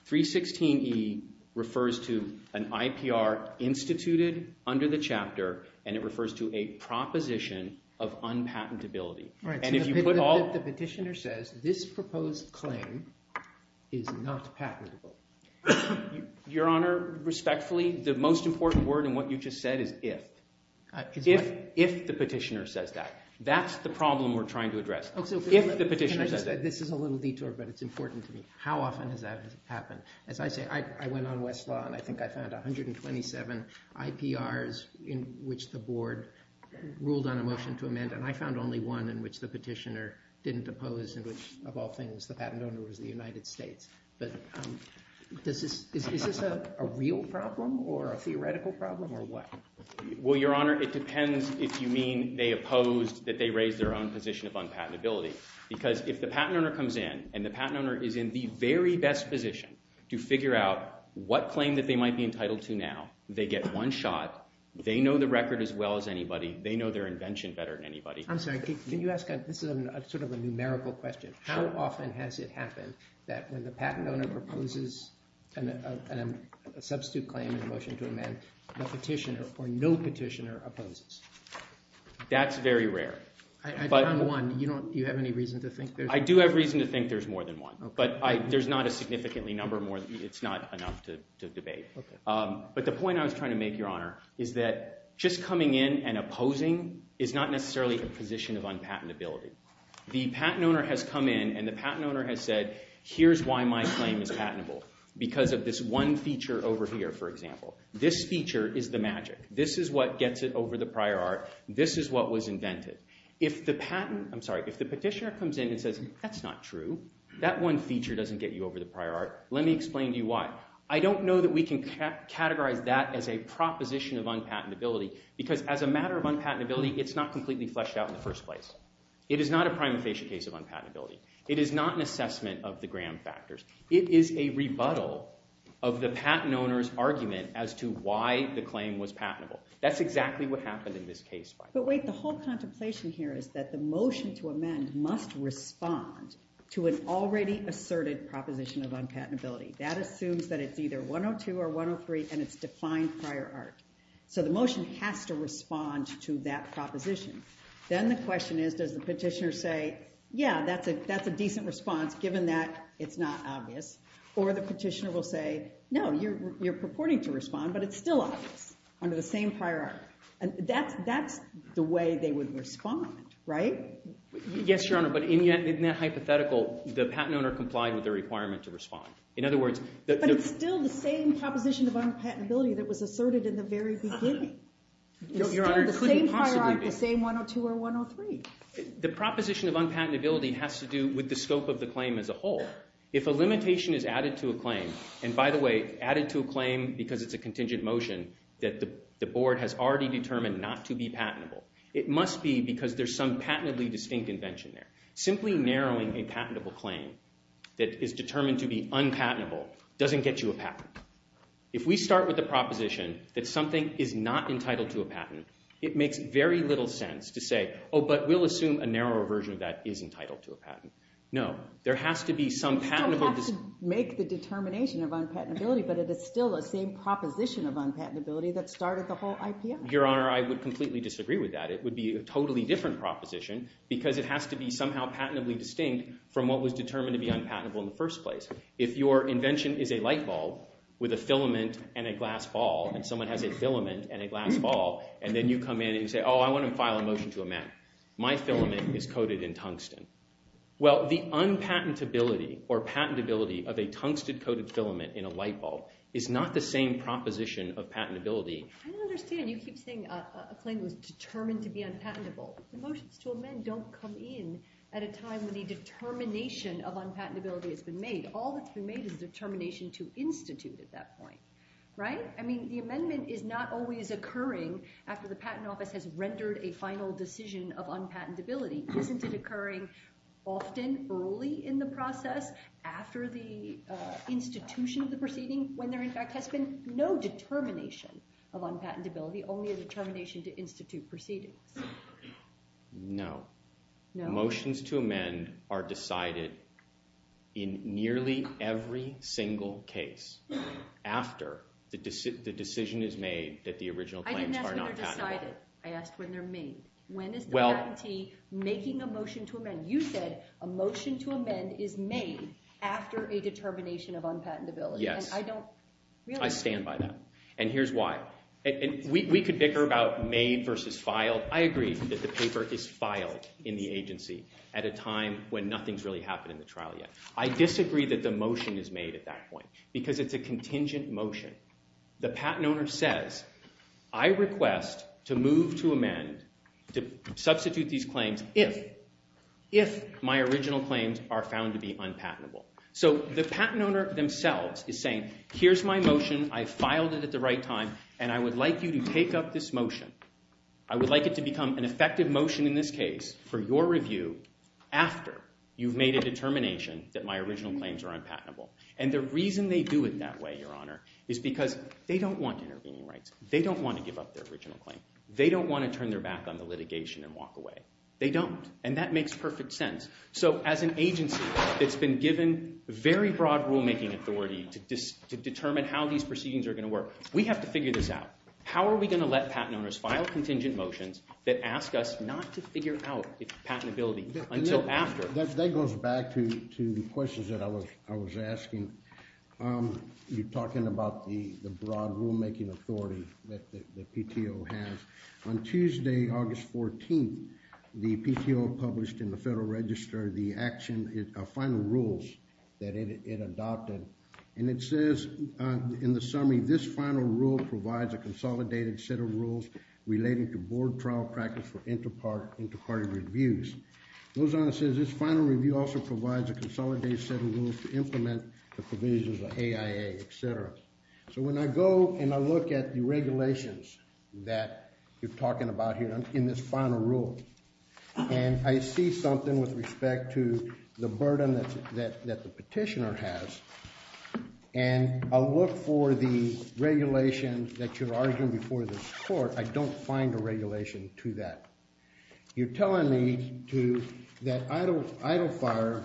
316E refers to an IPR instituted under the chapter, and it refers to a proposition of unpatentability. The petitioner says this proposed claim is not patentable. Your Honor, respectfully, the most important word in what you just said is if. If the petitioner says that. That's the problem we're trying to address. If the petitioner says that. This is a little detour, but it's important to me. How often has that happened? As I say, I went on Westlaw, and I think I found 127 IPRs in which the board ruled on a motion to amend. And I found only one in which the petitioner didn't oppose, in which, of all things, the patent owner was the United States. But is this a real problem or a theoretical problem, or what? Well, Your Honor, it depends if you mean they opposed that they raised their own position of unpatentability. Because if the patent owner comes in, and the patent owner is in the very best position to figure out what claim that they might be entitled to now. They get one shot. They know the record as well as anybody. They know their invention better than anybody. I'm sorry. Can you ask – this is sort of a numerical question. How often has it happened that when the patent owner proposes a substitute claim in a motion to amend, the petitioner or no petitioner opposes? That's very rare. I found one. Do you have any reason to think there's more than one? I do have reason to think there's more than one. But there's not a significantly number more. It's not enough to debate. But the point I was trying to make, Your Honor, is that just coming in and opposing is not necessarily a position of unpatentability. The patent owner has come in, and the patent owner has said, here's why my claim is patentable, because of this one feature over here, for example. This feature is the magic. This is what gets it over the prior art. This is what was invented. If the patent – I'm sorry. If the petitioner comes in and says, that's not true. That one feature doesn't get you over the prior art. Let me explain to you why. I don't know that we can categorize that as a proposition of unpatentability, because as a matter of unpatentability, it's not completely fleshed out in the first place. It is not a prima facie case of unpatentability. It is not an assessment of the gram factors. It is a rebuttal of the patent owner's argument as to why the claim was patentable. That's exactly what happened in this case. But wait. The whole contemplation here is that the motion to amend must respond to an already asserted proposition of unpatentability. That assumes that it's either 102 or 103, and it's defined prior art. So the motion has to respond to that proposition. Then the question is, does the petitioner say, yeah, that's a decent response, given that it's not obvious? Or the petitioner will say, no, you're purporting to respond, but it's still obvious under the same prior art. And that's the way they would respond, right? Yes, Your Honor, but in that hypothetical, the patent owner complied with the requirement to respond. But it's still the same proposition of unpatentability that was asserted in the very beginning. It's still the same prior art, the same 102 or 103. The proposition of unpatentability has to do with the scope of the claim as a whole. If a limitation is added to a claim, and by the way, added to a claim because it's a contingent motion, that the board has already determined not to be patentable, it must be because there's some patently distinct invention there. Simply narrowing a patentable claim that is determined to be unpatentable doesn't get you a patent. If we start with the proposition that something is not entitled to a patent, it makes very little sense to say, oh, but we'll assume a narrower version of that is entitled to a patent. No, there has to be some patentable. It doesn't have to make the determination of unpatentability, but it is still the same proposition of unpatentability that started the whole IPA. Your Honor, I would completely disagree with that. It would be a totally different proposition because it has to be somehow patently distinct from what was determined to be unpatentable in the first place. If your invention is a light bulb with a filament and a glass ball, and someone has a filament and a glass ball, and then you come in and you say, oh, I want to file a motion to amend. My filament is coated in tungsten. Well, the unpatentability or patentability of a tungsten-coated filament in a light bulb is not the same proposition of patentability. I don't understand. You keep saying a claim was determined to be unpatentable. The motions to amend don't come in at a time when the determination of unpatentability has been made. All that's been made is a determination to institute at that point, right? I mean, the amendment is not always occurring after the Patent Office has rendered a final decision of unpatentability. Isn't it occurring often early in the process after the institution of the proceeding when there, in fact, has been no determination of unpatentability, only a determination to institute proceedings? No. No? Motions to amend are decided in nearly every single case after the decision is made that the original claims are not patentable. I didn't ask when they're decided. I asked when they're made. When is the patentee making a motion to amend? You said a motion to amend is made after a determination of unpatentability. Yes. I stand by that. And here's why. We could bicker about made versus filed. I agree that the paper is filed in the agency at a time when nothing's really happened in the trial yet. I disagree that the motion is made at that point because it's a contingent motion. The patent owner says, I request to move to amend, to substitute these claims, if my original claims are found to be unpatentable. So the patent owner themselves is saying, here's my motion. I filed it at the right time, and I would like you to take up this motion. I would like it to become an effective motion in this case for your review after you've made a determination that my original claims are unpatentable. And the reason they do it that way, Your Honor, is because they don't want intervening rights. They don't want to give up their original claim. They don't want to turn their back on the litigation and walk away. They don't. And that makes perfect sense. So as an agency that's been given very broad rulemaking authority to determine how these proceedings are going to work, we have to figure this out. How are we going to let patent owners file contingent motions that ask us not to figure out its patentability until after? That goes back to the questions that I was asking. You're talking about the broad rulemaking authority that PTO has. On Tuesday, August 14th, the PTO published in the Federal Register the final rules that it adopted. And it says in the summary, this final rule provides a consolidated set of rules relating to board trial practice for interparty reviews. It goes on to say this final review also provides a consolidated set of rules to implement the provisions of AIA, et cetera. So when I go and I look at the regulations that you're talking about here in this final rule, and I see something with respect to the burden that the petitioner has, and I look for the regulations that you're arguing before this court, I don't find a regulation to that. You're telling me that idle fire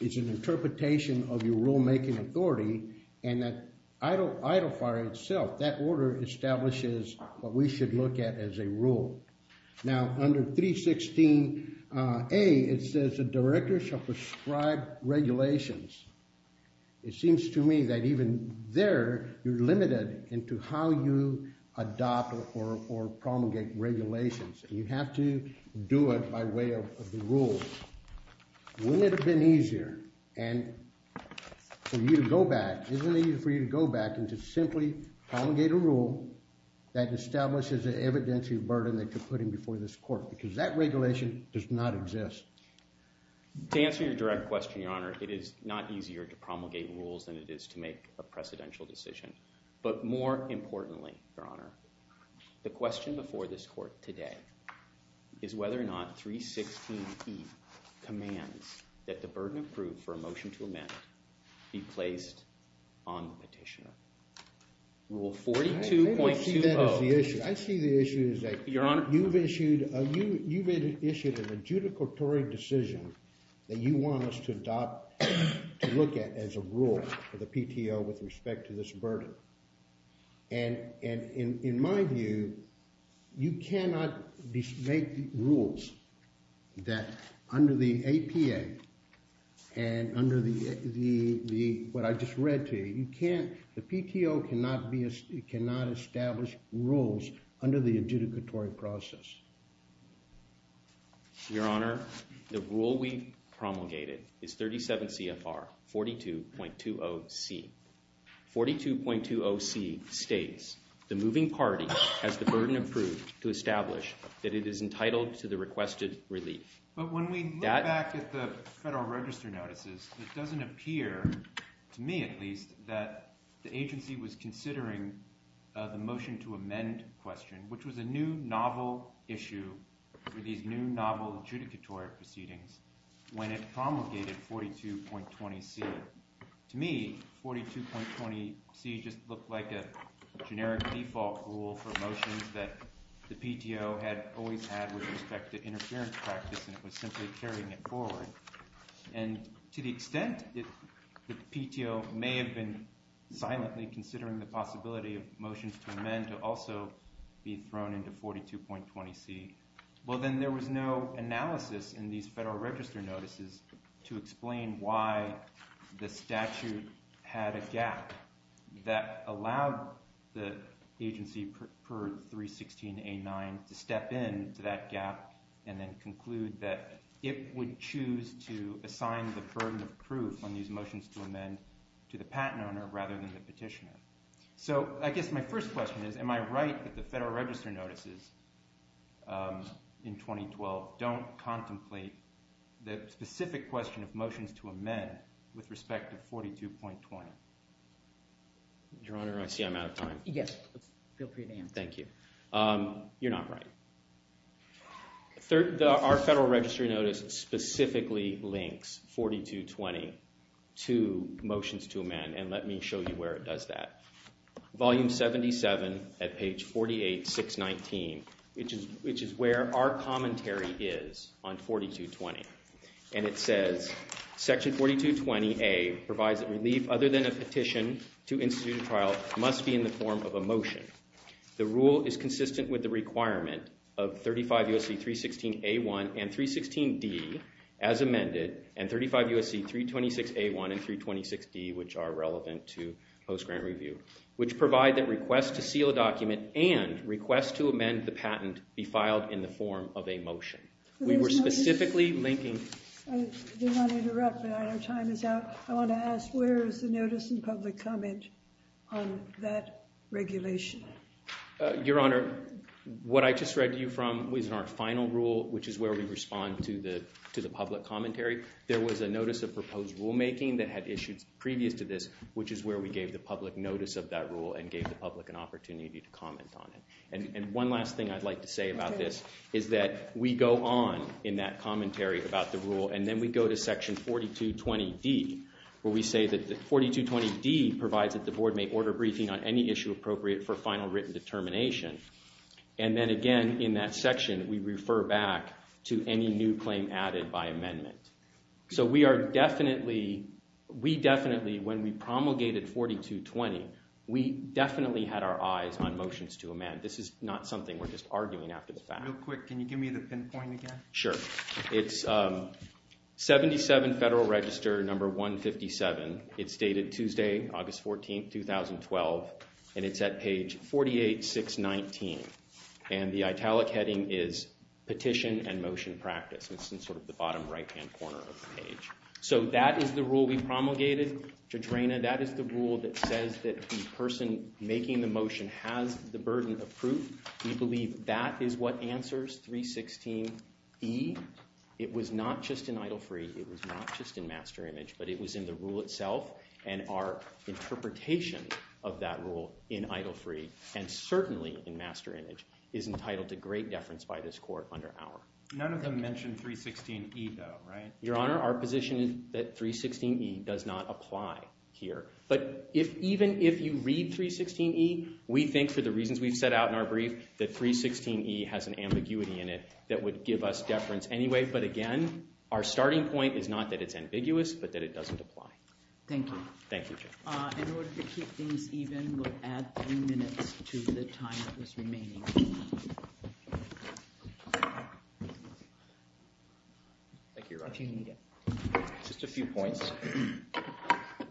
is an interpretation of your rulemaking authority and that idle fire itself, that order establishes what we should look at as a rule. Now, under 316A, it says the director shall prescribe regulations. It seems to me that even there you're limited into how you adopt or promulgate regulations, and you have to do it by way of the rules. Wouldn't it have been easier for you to go back and to simply promulgate a rule that establishes an evidentiary burden that you're putting before this court? Because that regulation does not exist. To answer your direct question, Your Honor, it is not easier to promulgate rules than it is to make a precedential decision. But more importantly, Your Honor, the question before this court today is whether or not 316E commands that the burden approved for a motion to amend be placed on the petitioner. Rule 42.20. I see the issue is that you've issued a judicatory decision that you want us to adopt to look at as a rule for the PTO with respect to this burden. And in my view, you cannot make rules that under the APA and under what I just read to you, the PTO cannot establish rules under the adjudicatory process. Your Honor, the rule we promulgated is 37 CFR 42.20C. 42.20C states, the moving party has the burden approved to establish that it is entitled to the requested relief. But when we look back at the Federal Register notices, it doesn't appear, to me at least, that the agency was considering the motion to amend question, which was a new novel issue for these new novel adjudicatory proceedings when it promulgated 42.20C. So to me, 42.20C just looked like a generic default rule for motions that the PTO had always had with respect to interference practice, and it was simply carrying it forward. And to the extent that the PTO may have been silently considering the possibility of motions to amend to also be thrown into 42.20C, well, then there was no analysis in these Federal Register notices to explain why the statute had a gap that allowed the agency preferred 316A9 to step in to that gap and then conclude that it would choose to assign the burden of proof on these motions to amend to the patent owner rather than the petitioner. So I guess my first question is, am I right that the Federal Register notices in 2012 don't contemplate the specific question of motions to amend with respect to 42.20? Your Honor, I see I'm out of time. Yes, feel free to answer. Thank you. You're not right. Our Federal Register notice specifically links 42.20 to motions to amend, and let me show you where it does that. Volume 77 at page 48619, which is where our commentary is on 42.20. And it says, Section 42.20A provides that relief other than a petition to institute a trial must be in the form of a motion. The rule is consistent with the requirement of 35 U.S.C. 316A1 and 316D as amended, and 35 U.S.C. 326A1 and 326D, which are relevant to post-grant review, which provide that requests to seal a document and requests to amend the patent be filed in the form of a motion. We were specifically linking— I did not interrupt, but our time is out. I want to ask, where is the notice and public comment on that regulation? Your Honor, what I just read to you from was in our final rule, which is where we respond to the public commentary. There was a notice of proposed rulemaking that had issued previous to this, which is where we gave the public notice of that rule and gave the public an opportunity to comment on it. And one last thing I'd like to say about this is that we go on in that commentary about the rule, and then we go to Section 42.20D, where we say that 42.20D provides that the Board may order briefing on any issue appropriate for final written determination. And then again, in that section, we refer back to any new claim added by amendment. So we definitely, when we promulgated 42.20, we definitely had our eyes on motions to amend. This is not something we're just arguing after the fact. Real quick, can you give me the pinpoint again? Sure. It's 77 Federal Register No. 157. It's dated Tuesday, August 14, 2012, and it's at page 48619. And the italic heading is Petition and Motion Practice. It's in sort of the bottom right-hand corner of the page. So that is the rule we promulgated to Drana. That is the rule that says that the person making the motion has the burden of proof. We believe that is what answers 316E. It was not just in Idle Free. It was not just in Master Image. But it was in the rule itself, and our interpretation of that rule in Idle Free, and certainly in Master Image, is entitled to great deference by this Court under our opinion. None of them mention 316E, though, right? Your Honor, our position is that 316E does not apply here. But even if you read 316E, we think for the reasons we've set out in our brief, that 316E has an ambiguity in it that would give us deference anyway. But again, our starting point is not that it's ambiguous, but that it doesn't apply. Thank you. Thank you, Judge. In order to keep things even, we'll add three minutes to the time that was remaining. Thank you, Your Honor. If you need it. Just a few points.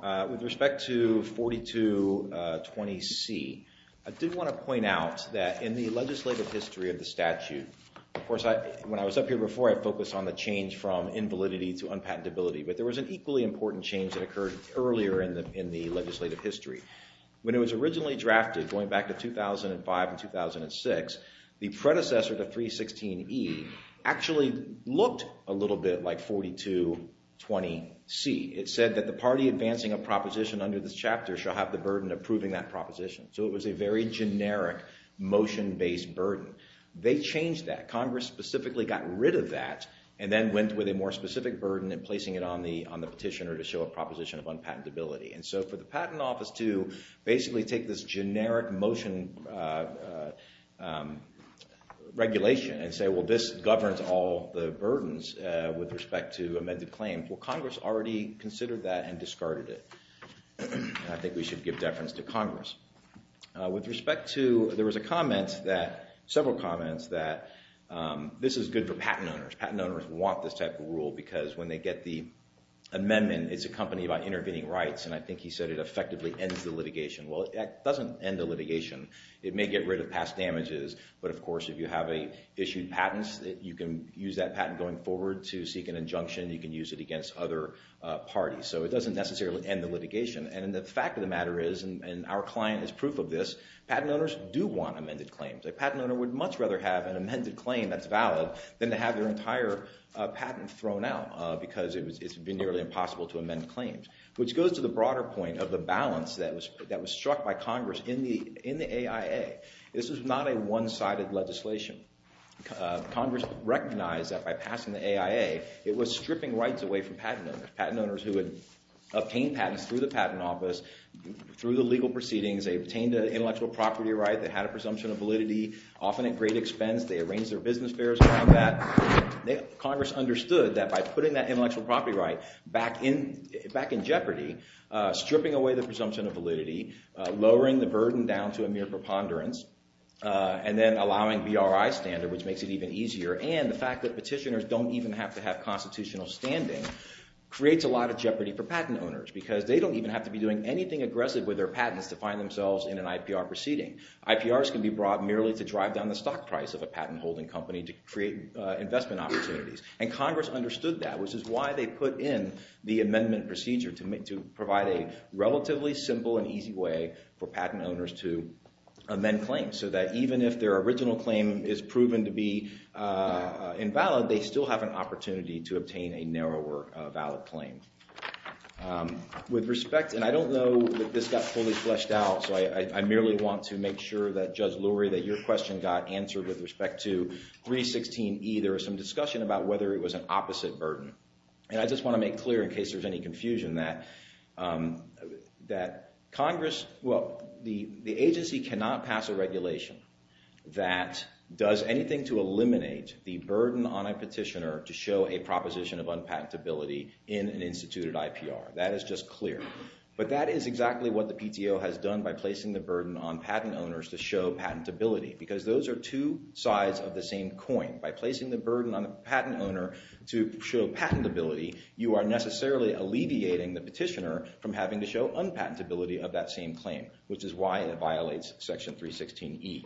With respect to 4220C, I did want to point out that in the legislative history of the statute, of course, when I was up here before, I focused on the change from invalidity to unpatentability. But there was an equally important change that occurred earlier in the legislative history. When it was originally drafted, going back to 2005 and 2006, the predecessor to 316E actually looked a little bit like 4220C. It said that the party advancing a proposition under this chapter shall have the burden of proving that proposition. So it was a very generic motion-based burden. They changed that. Congress specifically got rid of that and then went with a more specific burden and placing it on the petitioner to show a proposition of unpatentability. And so for the Patent Office to basically take this generic motion regulation and say, well, this governs all the burdens with respect to amended claims, well, Congress already considered that and discarded it. I think we should give deference to Congress. With respect to—there was a comment that—several comments that this is good for patent owners. Patent owners want this type of rule because when they get the amendment, it's a company about intervening rights, and I think he said it effectively ends the litigation. Well, it doesn't end the litigation. It may get rid of past damages, but, of course, if you have issued patents, you can use that patent going forward to seek an injunction. You can use it against other parties. So it doesn't necessarily end the litigation. And the fact of the matter is, and our client is proof of this, patent owners do want amended claims. A patent owner would much rather have an amended claim that's valid than to have their entire patent thrown out because it's been nearly impossible to amend the claims, which goes to the broader point of the balance that was struck by Congress in the AIA. This was not a one-sided legislation. Congress recognized that by passing the AIA, it was stripping rights away from patent owners, patent owners who had obtained patents through the patent office, through the legal proceedings. They obtained an intellectual property right. They had a presumption of validity, often at great expense. They arranged their business fairs around that. Congress understood that by putting that intellectual property right back in jeopardy, stripping away the presumption of validity, lowering the burden down to a mere preponderance, and then allowing BRI standard, which makes it even easier, and the fact that petitioners don't even have to have constitutional standing, creates a lot of jeopardy for patent owners because they don't even have to be doing anything aggressive with their patents to find themselves in an IPR proceeding. IPRs can be brought merely to drive down the stock price of a patent-holding company to create investment opportunities, and Congress understood that, which is why they put in the amendment procedure to provide a relatively simple and easy way for patent owners to amend claims so that even if their original claim is proven to be invalid, they still have an opportunity to obtain a narrower valid claim. With respect, and I don't know that this got fully fleshed out, so I merely want to make sure that, Judge Lurie, that your question got answered with respect to 316E. There was some discussion about whether it was an opposite burden, and I just want to make clear, in case there's any confusion, that Congress, well, the agency cannot pass a regulation that does anything to eliminate the burden on a petitioner to show a proposition of unpatentability in an instituted IPR. That is just clear. But that is exactly what the PTO has done by placing the burden on patent owners to show patentability because those are two sides of the same coin. By placing the burden on a patent owner to show patentability, you are necessarily alleviating the petitioner from having to show unpatentability of that same claim, which is why it violates Section 316E.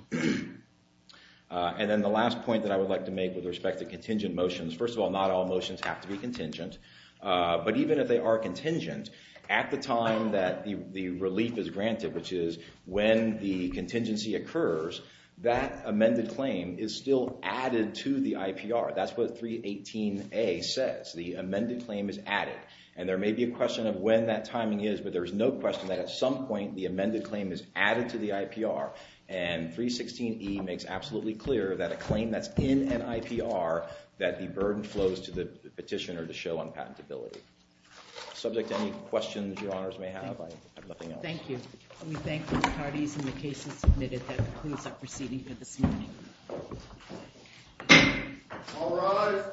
And then the last point that I would like to make with respect to contingent motions, first of all, not all motions have to be contingent, but even if they are contingent, at the time that the relief is granted, which is when the contingency occurs, that amended claim is still added to the IPR. That's what 318A says. The amended claim is added. And there may be a question of when that timing is, but there's no question that at some point the amended claim is added to the IPR. And 316E makes absolutely clear that a claim that's in an IPR that the burden flows to the petitioner to show unpatentability. Subject to any questions your honors may have, I have nothing else. Thank you. We thank the parties and the cases submitted. That concludes our proceeding for this morning. All rise.